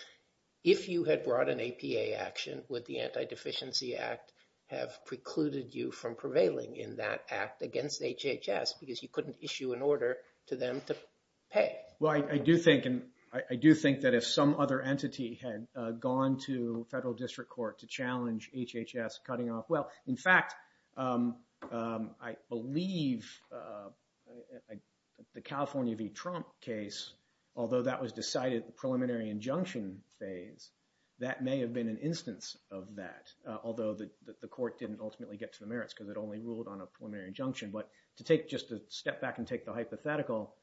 If you had brought an APA action, would the Anti-Deficiency Act have precluded you from prevailing in that act against HHS because you couldn't issue an order to them to pay? Well, I do think, and I do think that if some other entity had gone to federal district court to challenge HHS cutting off, in fact, I believe the California v. Trump case, although that was decided at the preliminary injunction phase, that may have been an instance of that, although the court didn't ultimately get to the merits because it only ruled on a preliminary injunction. But to take just a step back and take the hypothetical,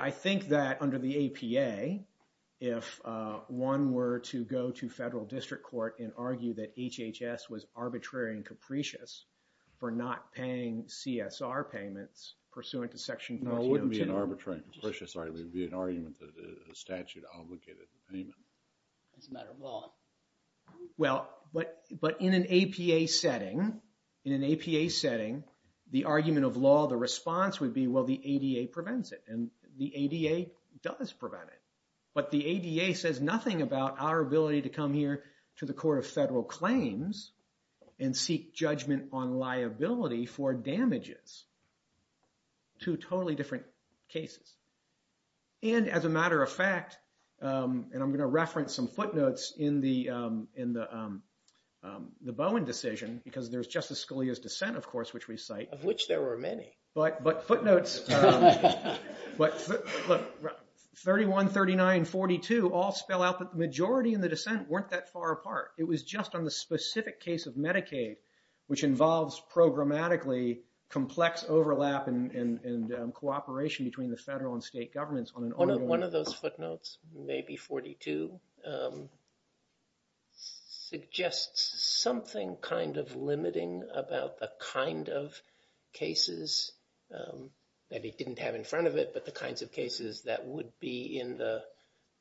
I think that under the APA, if one were to go to federal district court and argue that HHS was arbitrary and capricious for not paying CSR payments pursuant to section- No, it wouldn't be an arbitrary and capricious argument. It would be an argument that the statute obligated the payment. It doesn't matter at all. Well, but in an APA setting, in an APA setting, the argument of law, the response would be, well, the ADA prevents it. And the ADA does prevent it. But the ADA says nothing about our ability to come here to the court of federal claims and seek judgment on liability for damages. Two totally different cases. And as a matter of fact, and I'm going to reference some footnotes in the Bowen decision, because there's Justice Scalia's dissent, of course, which we cite- Of which there were many. But footnotes, 31, 39, 42 all spell out that the majority in the dissent weren't that far apart. It was just on the specific case of Medicaid, which involves programmatically complex overlap and cooperation between the federal and state governments. One of those footnotes, maybe 42, suggests something kind of limiting about the kind of cases that he didn't have in front of it, but the kinds of cases that would be in the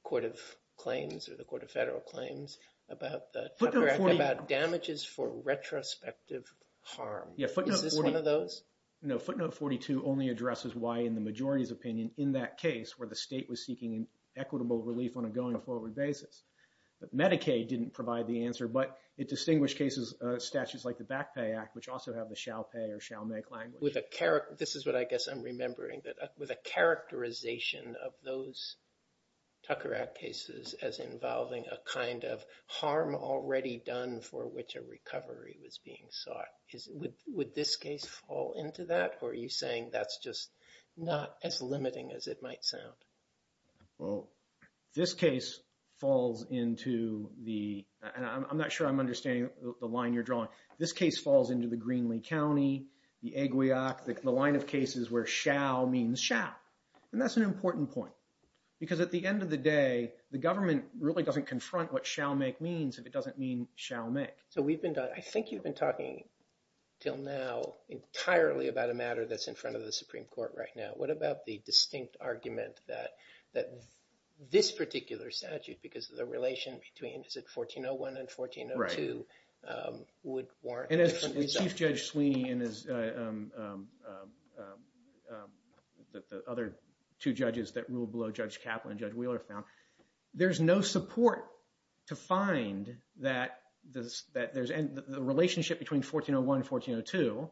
court of claims or the court of federal claims about the damages for retrospective harm. Is this one of those? No, footnote 42 only addresses why in the majority's opinion in that case, where the state was seeking equitable relief on a going forward basis. But Medicaid didn't provide the answer, but it distinguished cases, statutes like the Backpay Act, which also have the shall pay or shall make language. With a character, this is what I guess I'm remembering, with a characterization of those Tucker Act cases as involving a kind of harm already done for which a recovery was being sought. Would this case fall into that? Or are you saying that's just not as limiting as it might sound? Well, this case falls into the, and I'm not sure I'm understanding the line you're drawing. This case falls into the Greenlee County, the Aguiac, the line of cases where shall means shall. And that's an important point. Because at the end of the day, the government really doesn't confront what shall make means. It doesn't mean shall make. So we've been, I think you've been talking till now entirely about a matter that's in front of the Supreme Court right now. What about the distinct argument that this particular statute, because of the relation between, is it 1401 and 1402, would warrant- And as Chief Judge Sweeney and the other two judges that rule below Judge Kaplan and Judge Wheeler found, there's no support to find that the relationship between 1401 and 1402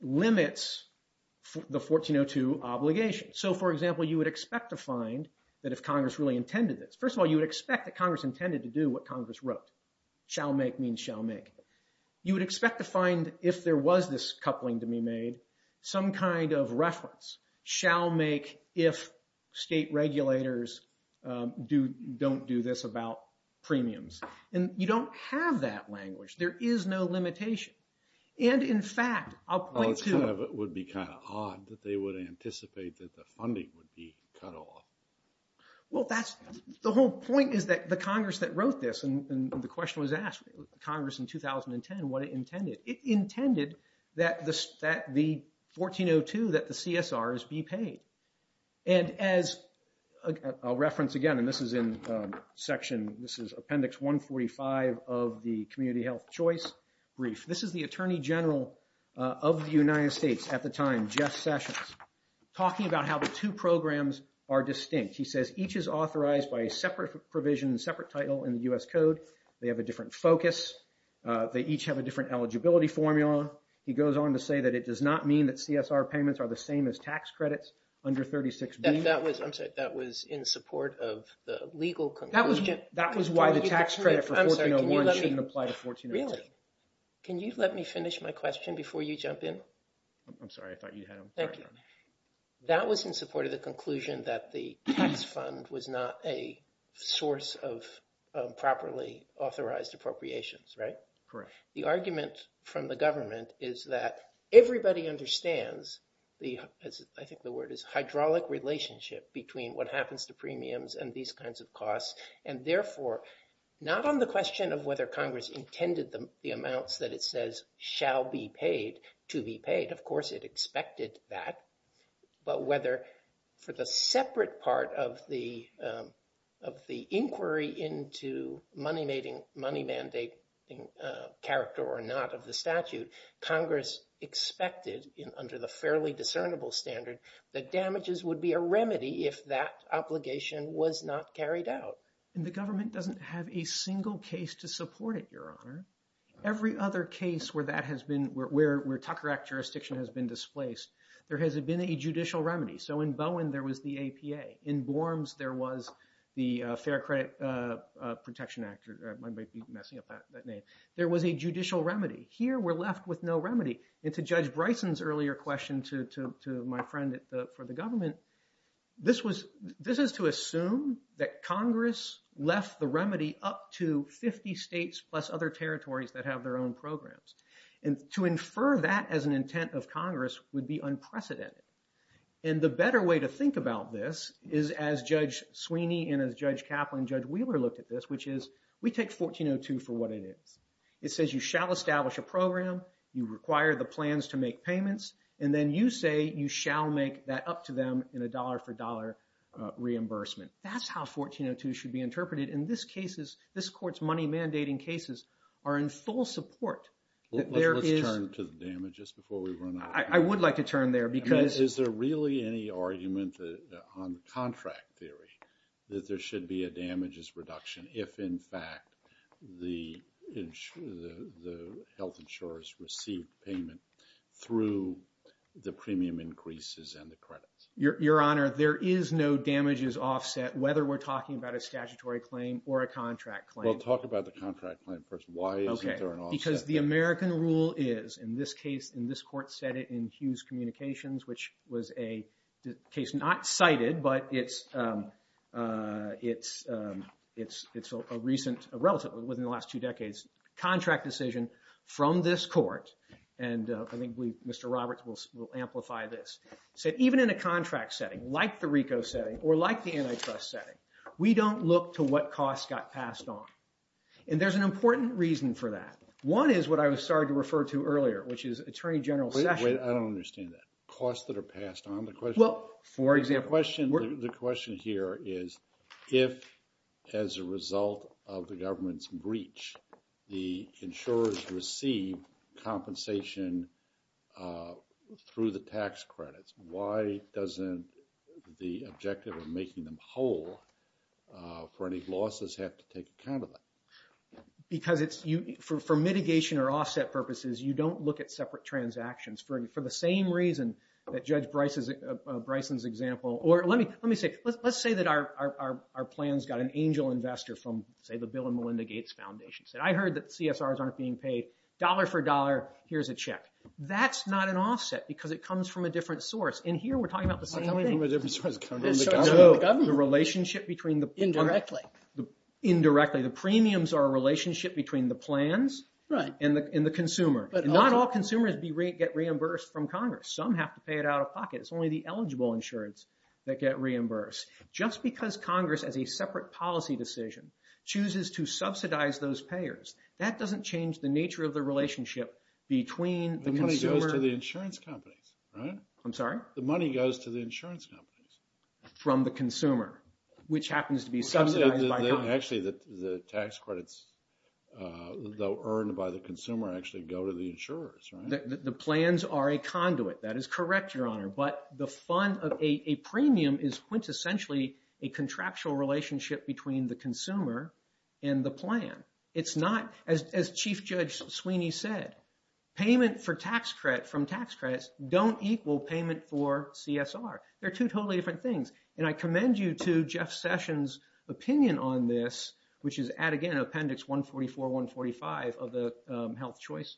limits the 1402 obligation. So for example, you would expect to find that if Congress really intended this, first of all, you would expect that Congress intended to do what Congress wrote. Shall make means shall make. You would expect to find if there was this coupling to be made, some kind of reference shall make if state regulators don't do this about premiums. And you don't have that language. There is no limitation. And in fact, I'll point to- It would be kind of odd that they would anticipate that the funding would be cut off. Well, that's the whole point is that the Congress that wrote this, and the question was asked, Congress in 2010, what it intended. It intended that the 1402, that the CSRs be paid. And as a reference again, and this is in section, this is Appendix 145 of the Community Health Choice Brief. This is the Attorney General of the United States at the time, Jeff Sessions, talking about how the two programs are distinct. He says each is authorized by a separate provision, separate title in the U.S. Code. They have a different focus. They each have a different eligibility formula. He goes on to say that it does not mean that CSR payments are the same as tax credits under 36B. That was, I'm sorry, that was in support of the legal conclusion. That was why the tax credit for 1401 shouldn't apply to 1402. Really? Can you let me finish my question before you jump in? I'm sorry, I thought you had them. Thank you. That was in support of the conclusion that the tax fund was not a source of properly authorized appropriations, right? Correct. The argument from the government is that everybody understands the, I think the word is, hydraulic relationship between what happens to premiums and these kinds of costs. And therefore, not on the question of whether Congress intended the amounts that it says shall be paid to be paid. Of course, it expected that. But whether for the separate part of the inquiry into money mandating character or not of the statute, Congress expected under the fairly discernible standard that damages would be a remedy if that obligation was not carried out. And the government doesn't have a single case to support it, Your Honor. Every other case where that has been, where Tucker Act jurisdiction has been displaced, there has been a judicial remedy. So in Bowen, there was the APA. In Borms, there was the Fair Credit Protection Act, or I might be messing up that name. There was a judicial remedy. Here, we're left with no remedy. And to Judge Bryson's earlier question to my friend for the government, this is to assume that Congress left the remedy up to 50 states plus other territories that have their own programs. And to infer that as an intent of Congress would be unprecedented. And the better way to think about this is as Judge Sweeney and as Judge Kaplan, Judge Wheeler look at this, which is we take 1402 for what it is. It says you shall establish a program. You require the plans to make payments. And then you say you shall make that up to them in a dollar for dollar reimbursement. That's how 1402 should be interpreted. In this case, this court's money mandating cases are in full support. Let's turn to the damages before we run out. I would like to turn there. Because is there really any argument on contract theory that there should be a damages reduction if in fact, the health insurers receive payment through the premium increases and the credits? Your Honor, there is no damages offset whether we're talking about a statutory claim or a contract claim. We'll talk about the contract claim first. Why is there an offset? Because the American rule is, in this case, in this court said it in Hughes Communications, which was a case not cited, but it's a recent, relatively within the last two decades, contract decision from this court. And I think Mr. Roberts will amplify this. So even in a contract setting, like the RICO setting or like the NHS setting, we don't look to what costs got passed on. And there's an important reason for that. One is what I was sorry to refer to earlier, which is Attorney General Sessions. I don't understand that. Costs that are passed on. The question here is if as a result of the government's breach, the insurers receive compensation through the tax credits, why doesn't the objective of making them whole for any losses have to take account of it? Because for mitigation or offset purposes, you don't look at separate transactions for the same reason that Judge Bryson's example, or let me say, let's say that our plans got an angel investor from say the Bill and Melinda Gates Foundation. I heard that CSRs aren't being paid dollar for dollar. Here's a check. That's not an offset because it comes from a different source. And here we're talking about the same thing. The relationship between the- Indirectly. Indirectly. The premiums are a relationship between the plans and the consumer. Not all consumers get reimbursed from Congress. Some have to pay it out of pocket. It's only the eligible insurers that get reimbursed. Just because Congress has a separate policy decision chooses to subsidize those payers. That doesn't change the nature of the relationship between the consumer- The money goes to the insurance companies, right? I'm sorry? The money goes to the insurance companies. From the consumer, which happens to be subsidized by Congress. Actually, the tax credits, though earned by the consumer, actually go to the insurers, right? The plans are a conduit. That is correct, Your Honor. But the fund of a premium is quintessentially a contractual relationship between the consumer and the plan. It's not, as Chief Judge Sweeney said, payment from tax credits don't equal payment for CSR. They're two totally different things. I commend you to Jeff Sessions' opinion on this, which is at, again, Appendix 144, 145 of the Health Choice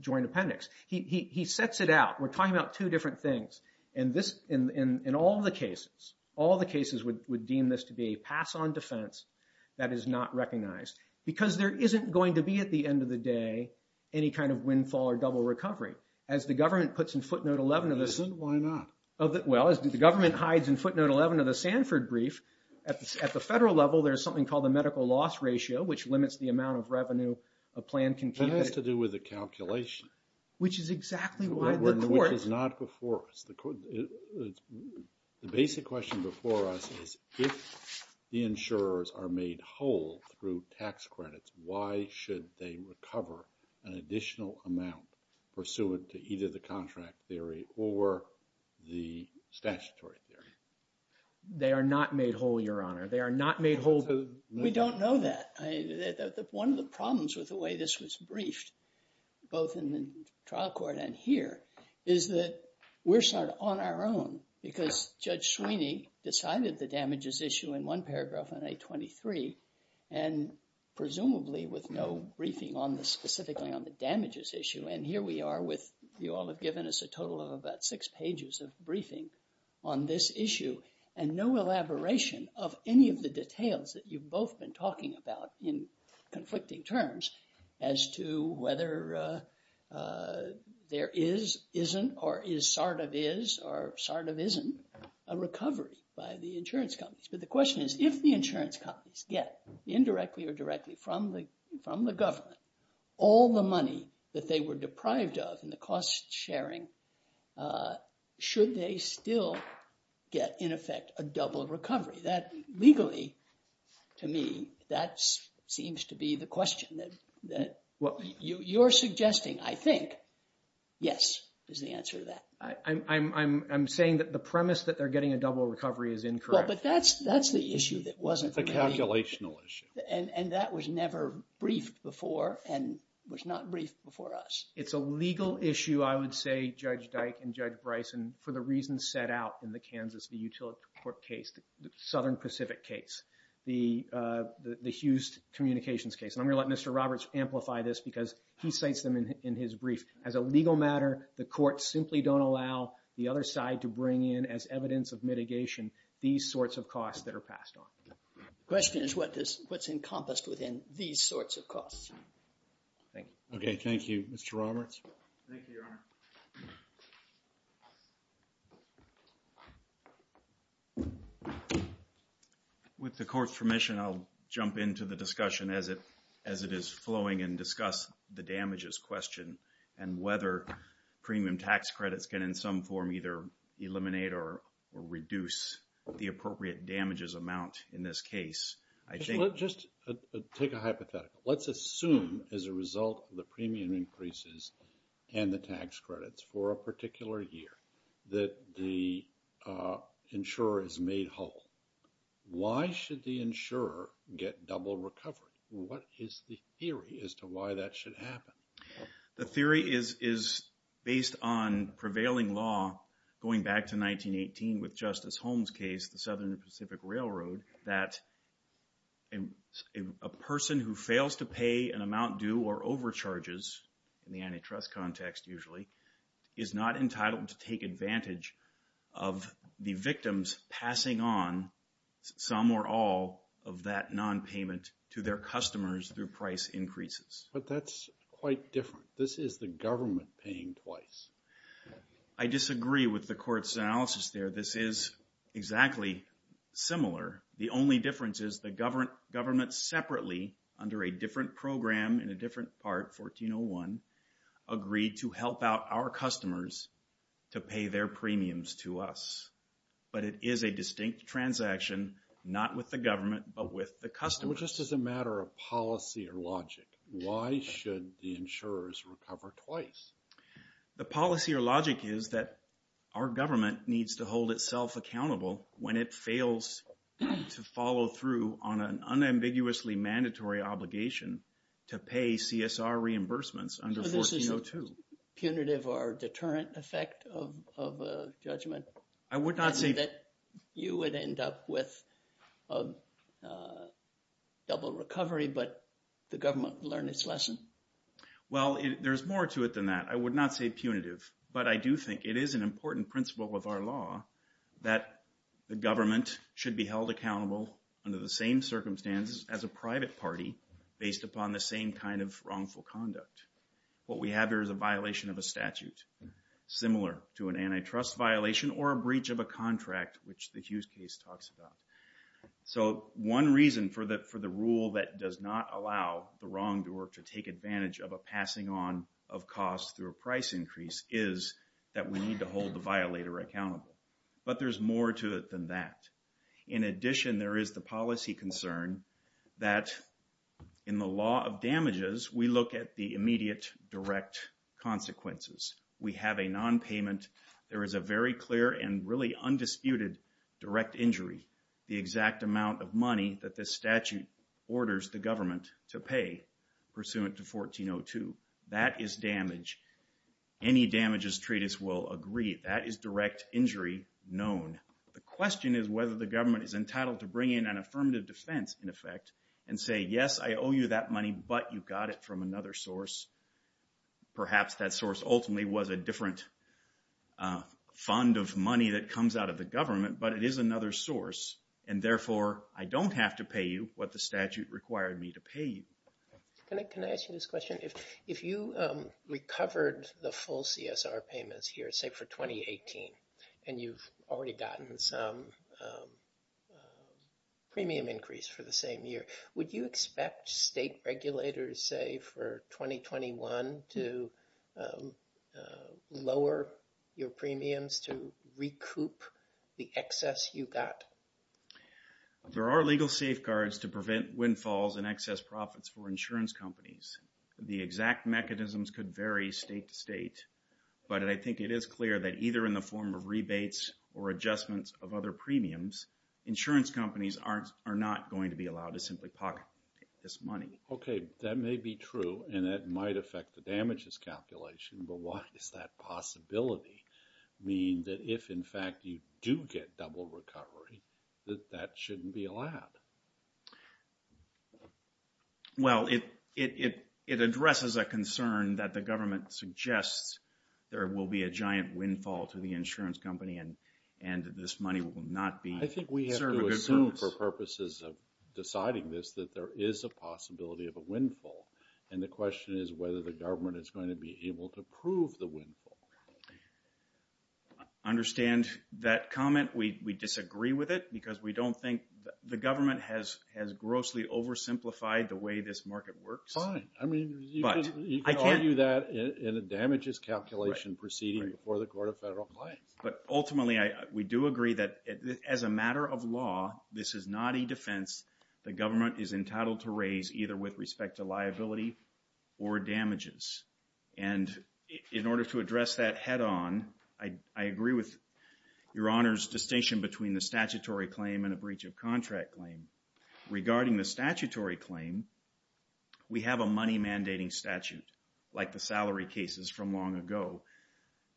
Joint Appendix. He sets it out. We're talking about two different things. In all the cases, all the cases would deem this to be a pass-on defense that is not recognized because there isn't going to be, at the end of the day, any kind of windfall or double recovery. As the government puts in footnote 11 of this- Why not? Well, as the government hides in footnote 11 of the Sanford brief, at the federal level, there's something called the medical loss ratio, which limits the amount of revenue a plan can keep- It has to do with the calculation. Which is exactly why the court- Which is not before us. The basic question before us is, if the insurers are made whole through tax credits, why should they recover an additional amount pursuant to either the contract theory or the statutory theory? They are not made whole, Your Honor. They are not made whole- We don't know that. One of the problems with the way this was briefed, both in the trial court and here, is that we're sort of on our own because Judge Sweeney decided the damages issue in one paragraph on A23 and presumably with no briefing on the- specifically on the damages issue. And here we are with- You all have given us a total of about six pages of briefing on this issue and no elaboration of any of the details that you've both been talking about in conflicting terms as to whether there is, isn't, or is sort of is, or sort of isn't, a recovery by the insurance companies. But the question is, if the insurance companies get indirectly or directly from the government all the money that they were deprived of and the cost sharing, should they still get, in effect, a double recovery? That legally, to me, that seems to be the question that what you're suggesting, I think, yes, is the answer to that. I'm saying that the premise that they're getting a double recovery is incorrect. But that's the issue that wasn't- The calculational issue. And that was never briefed before and was not briefed before us. It's a legal issue, I would say, Judge Dyke and Judge Bryson, for the reasons set out in the Kansas, the Utility Court case, Southern Pacific case, the Hughes Communications case. And I'm going to let Mr. Roberts amplify this because he states them in his brief. As a legal matter, the courts simply don't allow the other side to bring in, as evidence of mitigation, these sorts of costs that are passed on. The question is what's encompassed within these sorts of costs. Thank you. Okay. Thank you, Mr. Roberts. Thank you, Your Honor. With the court's permission, I'll jump into the discussion as it is flowing and discuss the damages question and whether premium tax credits can, in some form, either eliminate or reduce the appropriate damages amount in this case. Just take a hypothetical. Let's assume as a result of the premium increases and the tax credits for a particular year that the insurer is made whole. Why should the insurer get double recovery? What is the theory as to why that should happen? The theory is based on prevailing law going back to 1918 with Justice Holmes' case of the Southern Pacific Railroad that a person who fails to pay an amount due or overcharges, in the antitrust context usually, is not entitled to take advantage of the victims passing on some or all of that nonpayment to their customers through price increases. But that's quite different. This is the government paying twice. I disagree with the court's analysis there. This is exactly similar. The only difference is the government separately under a different program in a different part, 1401, agreed to help out our customers to pay their premiums to us. But it is a distinct transaction not with the government but with the customer. Just as a matter of policy or logic, why should the insurers recover twice? The policy or logic is that our government needs to hold itself accountable when it fails to follow through on an unambiguously mandatory obligation to pay CSR reimbursements under 1402. Punitive or deterrent effect of a judgment? I would not say that you would end up with a double recovery but the government learned its lesson. Well, there's more to it than that. I would not say punitive. But I do think it is an important principle with our law that the government should be held accountable under the same circumstances as a private party based upon the same kind of wrongful conduct. What we have here is a violation of a statute similar to an antitrust violation or a breach of a contract which the Hughes case talks about. So one reason for the rule that does not allow the wrongdoer to take advantage of a passing on of costs through a price increase is that we need to hold the violator accountable. But there's more to it than that. In addition, there is the policy concern that in the law of damages, we look at the immediate direct consequences. We have a non-payment. There is a very clear and really undisputed direct injury. The exact amount of money that this statute orders the government to pay pursuant to 1402, that is damage. Any damages treatise will agree that is direct injury known. The question is whether the government is entitled to bring in an affirmative defense, in effect, and say, yes, I owe you that money, but you got it from another source. Perhaps that source ultimately was a different fund of money that comes out of the government, but it is another source. And therefore, I don't have to pay you what the statute required me to pay you. Can I ask you this question? If you recovered the full CSR payments here, say for 2018, and you've already gotten some premium increase for the same year, would you expect state regulators, say for 2021, to lower your premiums, to recoup the excess you got? There are legal safeguards to prevent windfalls and excess profits for insurance companies. The exact mechanisms could vary state to state, but I think it is clear that either in the form of rebates or adjustments of other premiums, insurance companies are not going to be allowed to simply pocket this money. Okay, that may be true, and that might affect the damages calculation, but what is that possibility? Meaning that if, in fact, you do get double recovery, that shouldn't be allowed? Well, it addresses a concern that the government suggests there will be a giant windfall to the insurance company and this money will not be... I think we have to assume for purposes of deciding this that there is a possibility of a windfall, and the question is whether the government is going to be able to prove the windfall. I understand that comment. We disagree with it because we don't think... The government has grossly oversimplified the way this market works. Fine, I mean, I can't do that in a damages calculation proceeding before the Court of Federal Claims. But ultimately, we do agree that as a matter of law, this is not a defense the government is entitled to raise either with respect to liability or damages. And in order to address that head-on, I agree with Your Honor's distinction between the statutory claim and a breach of contract claim. Regarding the statutory claim, we have a money mandating statute like the salary cases from long ago.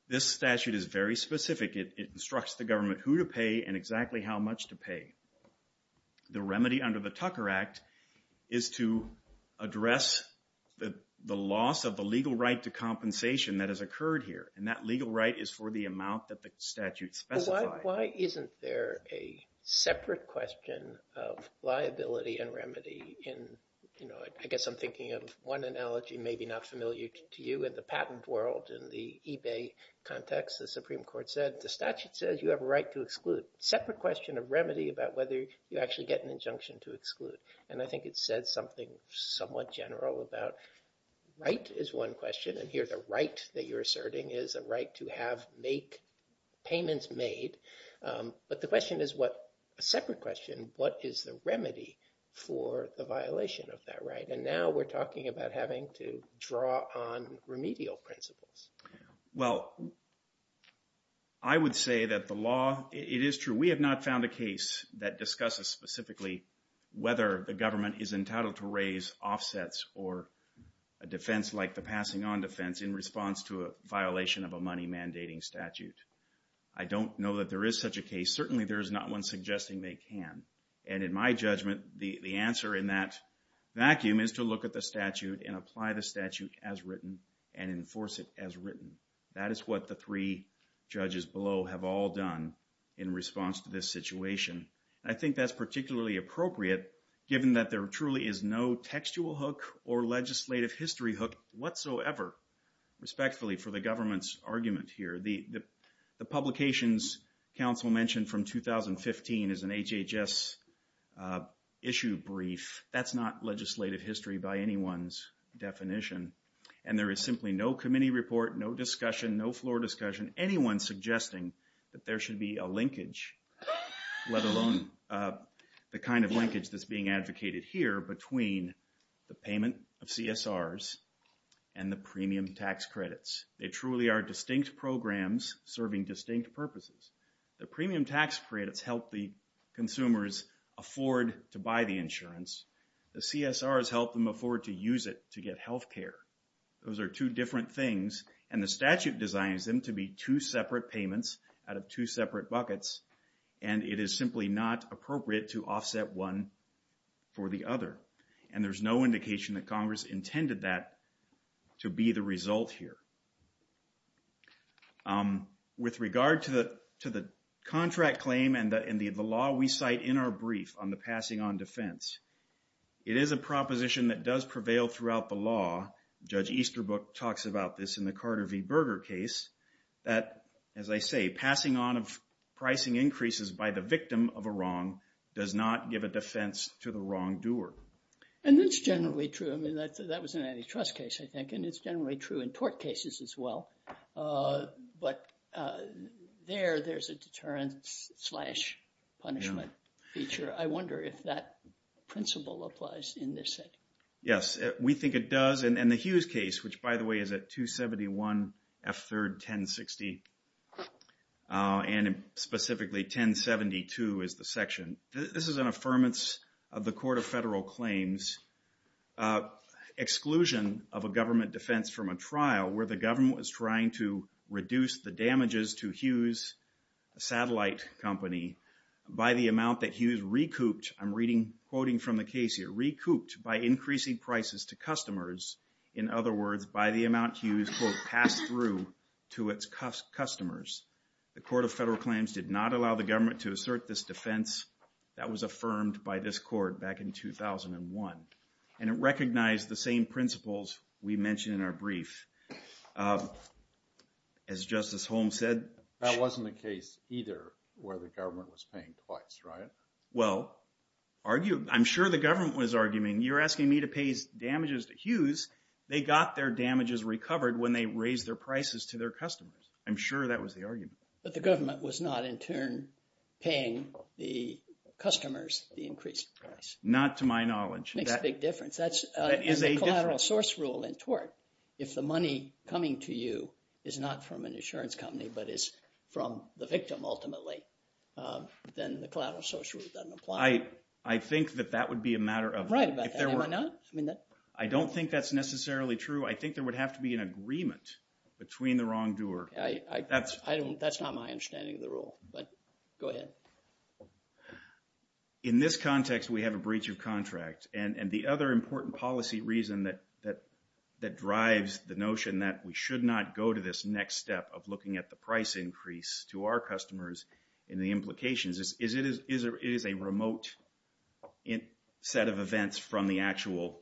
This statute is very specific. It instructs the government who to pay and exactly how much to pay. The remedy under the Tucker Act is to address the loss of the legal right to compensation that has occurred here, and that legal right is for the amount that the statute specifies. Why isn't there a separate question of liability and remedy in, you know, I guess I'm thinking of one analogy maybe not familiar to you in the patent world, in the eBay context, the Supreme Court said, the statute says you have a right to exclude. Separate question of remedy about whether you actually get an injunction to exclude. And I think it said something somewhat general about right is one question. And here's a right that you're asserting is a right to have make, payments made. But the question is what, a separate question, what is the remedy for the violation of that right? And now we're talking about having to draw on remedial principles. Well, I would say that the law, it is true. We have not found a case that discusses specifically whether the government is entitled to raise offsets or a defense like the passing on defense in response to a violation of a money mandating statute. I don't know that there is such a case. Certainly there's not one suggesting they can. And in my judgment, the answer in that vacuum is to look at the statute and apply the statute as written and enforce it as written. That is what the three judges below have all done in response to this situation. I think that's particularly appropriate given that there truly is no textual hook or legislative history hook whatsoever, respectfully for the government's argument here. The Publications Council mentioned from 2015 is an HHS issue brief. That's not legislative history by anyone's definition. And there is simply no committee report, no discussion, no floor discussion, anyone suggesting that there should be a linkage, let alone the kind of linkage that's being advocated here between the payment of CSRs and the premium tax credits. They truly are distinct programs serving distinct purposes. The premium tax credits help the consumers afford to buy the insurance. The CSRs help them afford to use it to get health care. Those are two different things. And the statute designs them to be two separate payments out of two separate buckets. And it is simply not appropriate to offset one for the other. And there's no indication that Congress intended that to be the result here. With regard to the contract claim and the law we cite in our brief on the passing on defense, it is a proposition that does prevail throughout the law. Judge Easterbrook talks about this in the Carter v. Berger case, that, as I say, passing on of pricing increases by the victim of a wrong does not give a defense to the wrongdoer. And it's generally true. I mean, that was an antitrust case, I think. And it's generally true in tort cases as well. But there, there's a deterrent slash punishment feature. I wonder if that principle applies in this case. Yes, we think it does. And the Hughes case, which, by the way, is at 271 F. 3rd, 1060, and specifically 1072 is the section. This is an affirmance of the Court of Federal Claims exclusion of a government defense from a trial where the government was trying to reduce the damages to Hughes Satellite Company by the amount that Hughes recouped. I'm reading, quoting from the case here, recouped by increasing prices to customers. In other words, by the amount Hughes quote, passed through to its customers. The Court of Federal Claims did not allow the government to assert this defense. That was affirmed by this court back in 2001. And it recognized the same principles we mentioned in our brief. As Justice Holmes said, that wasn't the case either where the government was paying twice, right? Well, I'm sure the government was arguing, you're asking me to pay damages to Hughes. They got their damages recovered when they raised their prices to their customers. I'm sure that was the argument. But the government was not in turn paying the customers the increased price. Not to my knowledge. That's a big difference. That's a collateral source rule in tort. If the money coming to you is not from an insurance company, but is from the victim ultimately, then the collateral source rule doesn't apply. I think that that would be a matter of... Right. I don't think that's necessarily true. I think there would have to be an agreement between the wrongdoer. That's not my understanding of the rule. But go ahead. In this context, we have a breach of contract. And the other important policy reason that drives the notion that we should not go to this next step of looking at the price increase to our customers and the implications is it is a remote set of events from the actual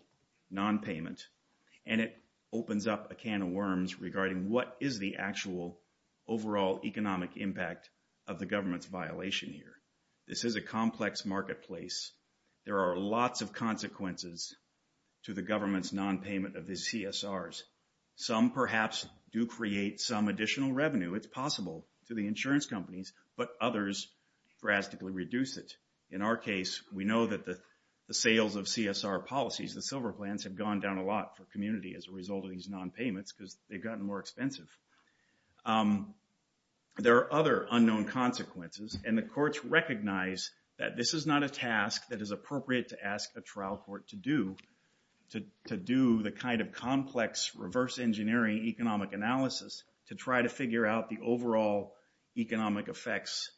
non-payment. And it opens up a can of worms regarding what is the actual overall economic impact of the government's violation here. This is a complex marketplace. There are lots of consequences to the government's non-payment of the CSRs. Some perhaps do create some additional revenue. It's possible to the insurance companies, but others drastically reduce it. In our case, we know that the sales of CSR policies, the silver plans have gone down a lot for community as a result of these non-payments because they've gotten more expensive. There are other unknown consequences. And the courts recognize that this is not a task that is appropriate to ask a trial court to do, to do the kind of complex reverse engineering economic analysis to try to figure out the overall economic effects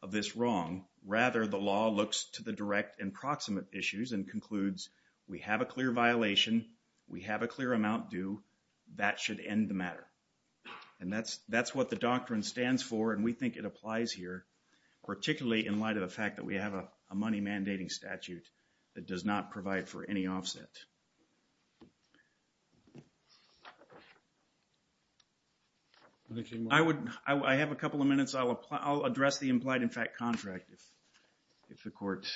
of this wrong. Rather, the law looks to the direct and proximate issues and concludes, we have a clear violation. We have a clear amount due. That should end the matter. And that's what the doctrine stands for. And we think it applies here, particularly in light of the fact that we have a money mandating statute that does not provide for any offset. I have a couple of minutes. I'll address the implied in fact contract. If the court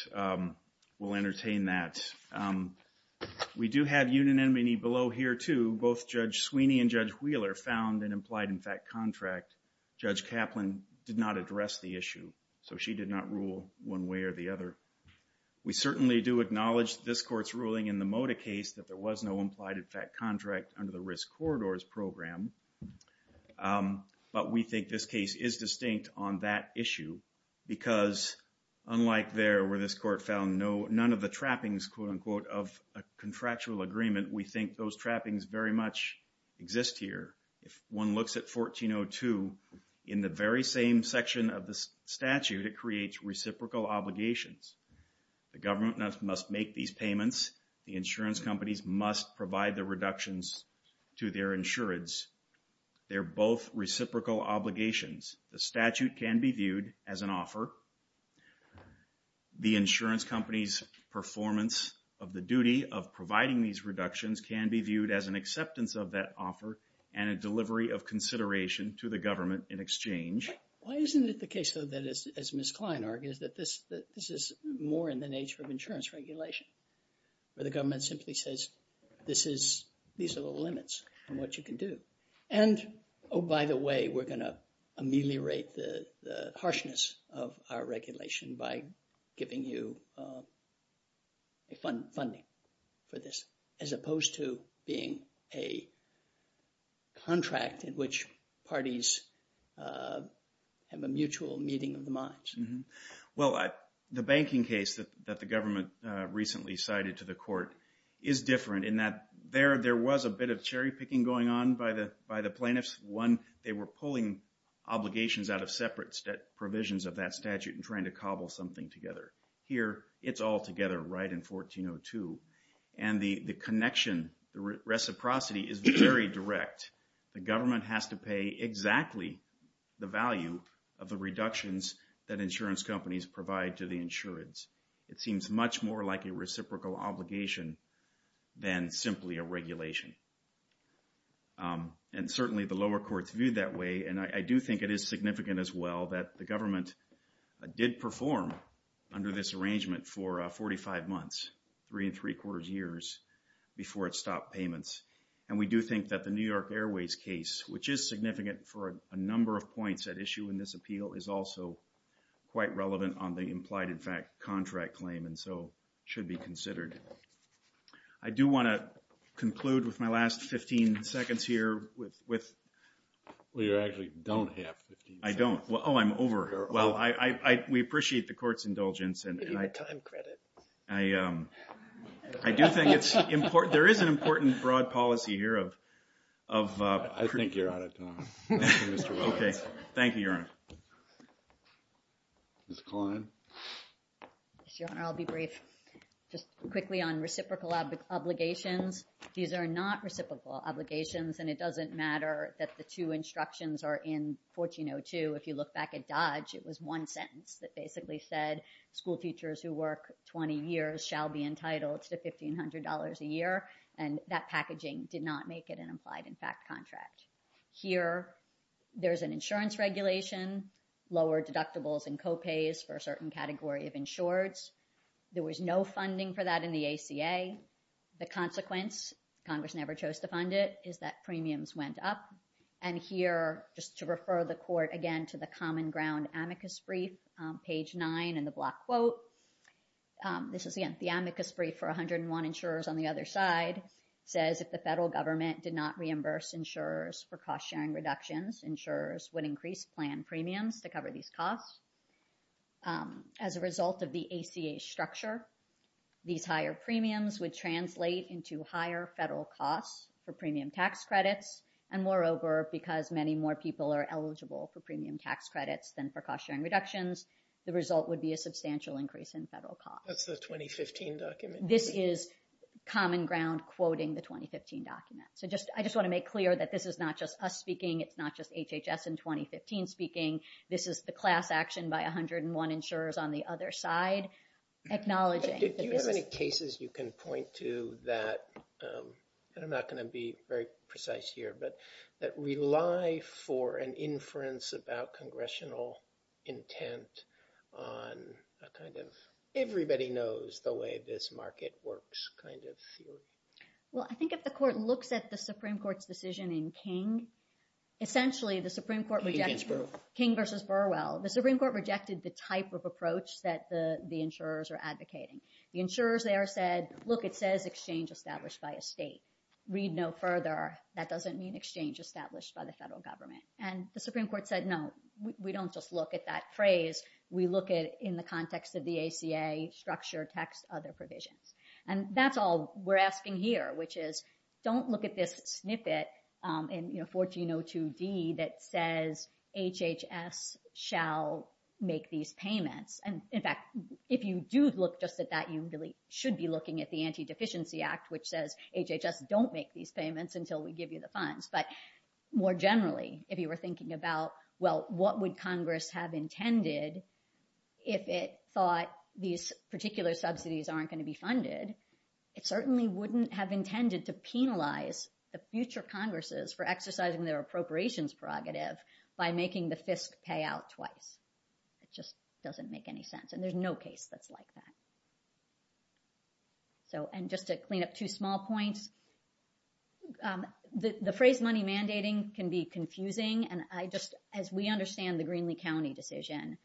will entertain that. We do have union enmity below here too. Both Judge Sweeney and Judge Wheeler found an implied in fact contract. Judge Kaplan did not address the issue. So she did not rule one way or the other. We certainly do acknowledge this court's ruling in the Moda case that there was no implied in fact contract under the risk corridors program. But we think this case is distinct on that issue because unlike there where this court found no, none of the trappings quote unquote of a contractual agreement. We think those trappings very much exist here. If one looks at 1402 in the very same section of the statute, it creates reciprocal obligation. The government must make these payments. The insurance companies must provide the reductions to their insurance. They're both reciprocal obligations. The statute can be viewed as an offer. The insurance company's performance of the duty of providing these reductions can be viewed as an acceptance of that offer and a delivery of consideration to the government in exchange. Why isn't it the case though that as Ms. Klein argues this is more in the nature of insurance regulation where the government simply says this is, these are the limits on what you can do. And oh, by the way, we're going to ameliorate the harshness of our regulation by giving you funding for this as opposed to being a contract in which parties have a mutual meeting of the minds. Well, the banking case that the government recently cited to the court is different in that there was a bit of cherry picking going on by the plaintiffs. One, they were pulling obligations out of separate provisions of that statute and trying to cobble something together. Here, it's all together right in 1402. And the connection, the reciprocity is very direct. The government has to pay exactly the value of the reductions that insurance companies provide to the insurance. It seems much more like a reciprocal obligation than simply a regulation. And certainly the lower court viewed that way. And I do think it is significant as well that the government did perform under this arrangement for 45 months, three and three quarters years before it stopped payments. And we do think that the New York Airways case, which is significant for a number of points at issue in this appeal is also quite relevant on the implied in fact contract claim. And so it should be considered. I do want to conclude with my last 15 seconds here with... Well, you actually don't have 15. I don't. Well, oh, I'm over here. Well, we appreciate the court's indulgence. And I do think it's important. There is an important broad policy here of... I think you're out of time. Okay. Thank you, Your Honor. Ms. Klein. Your Honor, I'll be brief. Just quickly on reciprocal obligations. These are not reciprocal obligations. And it doesn't matter that the two instructions are in 1402. If you look back at Dodge, it was one sentence that basically said school teachers who work 20 years shall be entitled to $1,500 a year. And that packaging did not make it an implied in fact contract. Here, there's an insurance regulation. Lower deductibles and co-pays for a certain category of insureds. There was no funding for that in the ACA. The consequence, Congress never chose to fund it, is that premiums went up. And here, just to refer the court again to the common ground amicus brief, page nine in the block quote. This is the amicus brief for 101 insurers on the other side, says if the federal government did not reimburse insurers for cost sharing reductions, insurers would increase plan premiums to cover these costs. As a result of the ACA structure, these higher premiums would translate into higher federal costs for premium tax credits. And moreover, because many more people are eligible for premium tax credits than for cost sharing reductions, the result would be a substantial increase in federal costs. That's the 2015 document. This is common ground quoting the 2015 document. So I just want to make clear that this is not just us speaking. It's not just HHS in 2015 speaking. This is the class action by 101 insurers on the other side. Acknowledging. If you have any cases, you can point to that. And I'm not going to be very precise here, but that we lie for an inference about congressional intent on a kind of everybody knows the way this market works kind of field. Well, I think if the court looks at the Supreme Court's decision in King, essentially, the Supreme Court King versus Burwell, the Supreme Court rejected the type of approach that the insurers are advocating. The insurers there said, look, it says exchange established by a state. Read no further. That doesn't mean exchange established by the federal government. And the Supreme Court said, no, we don't just look at that phrase. We look at in the context of the ACA structure, tax, other provisions. And that's all we're asking here, which is don't look at this snippet in 1402D that says HHS shall make these payments. And in fact, if you do look just at that, you really should be looking at the Anti-Deficiency Act, which says HHS don't make these payments until we give you the funds. But more generally, if you were thinking about, well, what would Congress have intended if it thought these particular subsidies aren't going to be funded? It certainly wouldn't have intended to penalize the future Congresses for exercising their appropriations prerogative by making the FISP pay out twice. It just doesn't make any sense. And there's no case that's like that. So, and just to clean up two small points, the phrase money mandating can be confusing. And I just, as we understand the Greenlee County decision,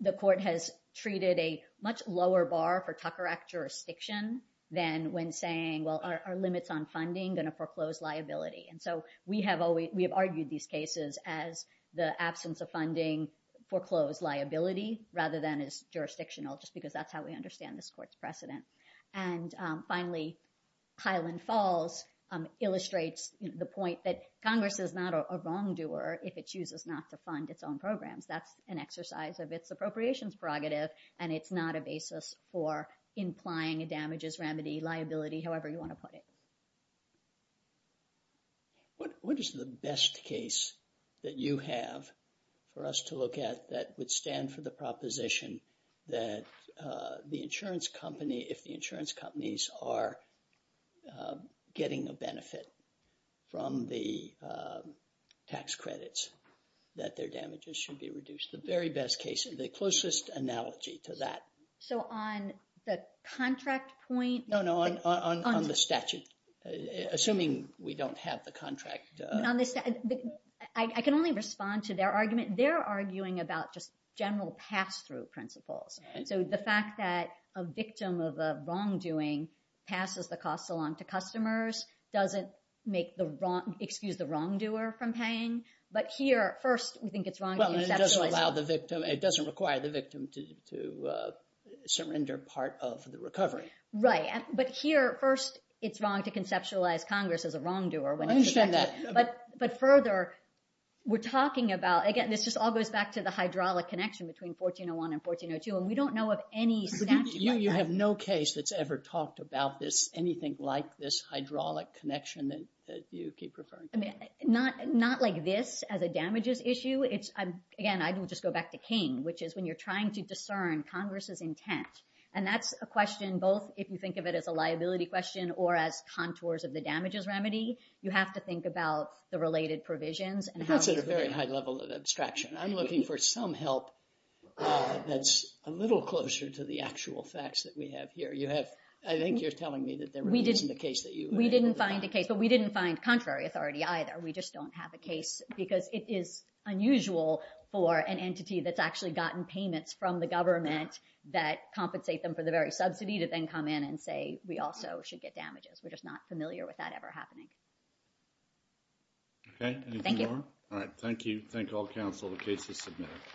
the court has treated a much lower bar for Tucker Act jurisdiction than when saying, well, our limits on funding gonna foreclose liability. And so we have argued these cases as the absence of funding foreclosed liability rather than as jurisdictional, just because that's how we understand this court's precedent. And finally, Highland Falls illustrates the point that Congress is not a wrongdoer if it chooses not to fund its own programs. That's an exercise of its appropriations prerogative. And it's not a basis for implying damages, remedy, liability, however you want to put it. What is the best case that you have for us to look at that would stand for the proposition that the insurance company, if the insurance companies are getting a benefit from the tax credits, that their damages should be reduced? The very best case, the closest analogy to that. So on the contract point. No, no, on the statute. Assuming we don't have the contract. I can only respond to their argument. They're arguing about just general pass-through principles. So the fact that a victim of a wrongdoing passes the cost along to customers doesn't make the wrong, excuse the wrongdoer from paying. But here, first, we think it's wrong. It doesn't require the victim to surrender part of the recovery. Right. But here, first, it's wrong to conceptualize Congress as a wrongdoer. But further, we're talking about, again, this just all goes back to the hydraulic connection between 1401 and 1402. And we don't know of any. You have no case that's ever talked about this, anything like this hydraulic connection that you keep referring to. Not like this as a damages issue. It's, again, I can just go back to King, which is when you're trying to discern Congress's intent. And that's a question, both if you think of it as a liability question or as contours of the damages remedy. You have to think about the related provisions. It's also a very high level of abstraction. I'm looking for some help that's a little closer to the actual facts that we have here. You have, I think you're telling me that there isn't a case that you- We didn't find a case, but we didn't find contrary authority either. We just don't have a case because it is unusual for an entity that's actually gotten payments from the government that compensate them for the very subsidy to then come in and say, we also should get damages. We're just not familiar with that ever happening. Okay. Thank you. All right. Thank you. Thank all counsel. The case is submitted.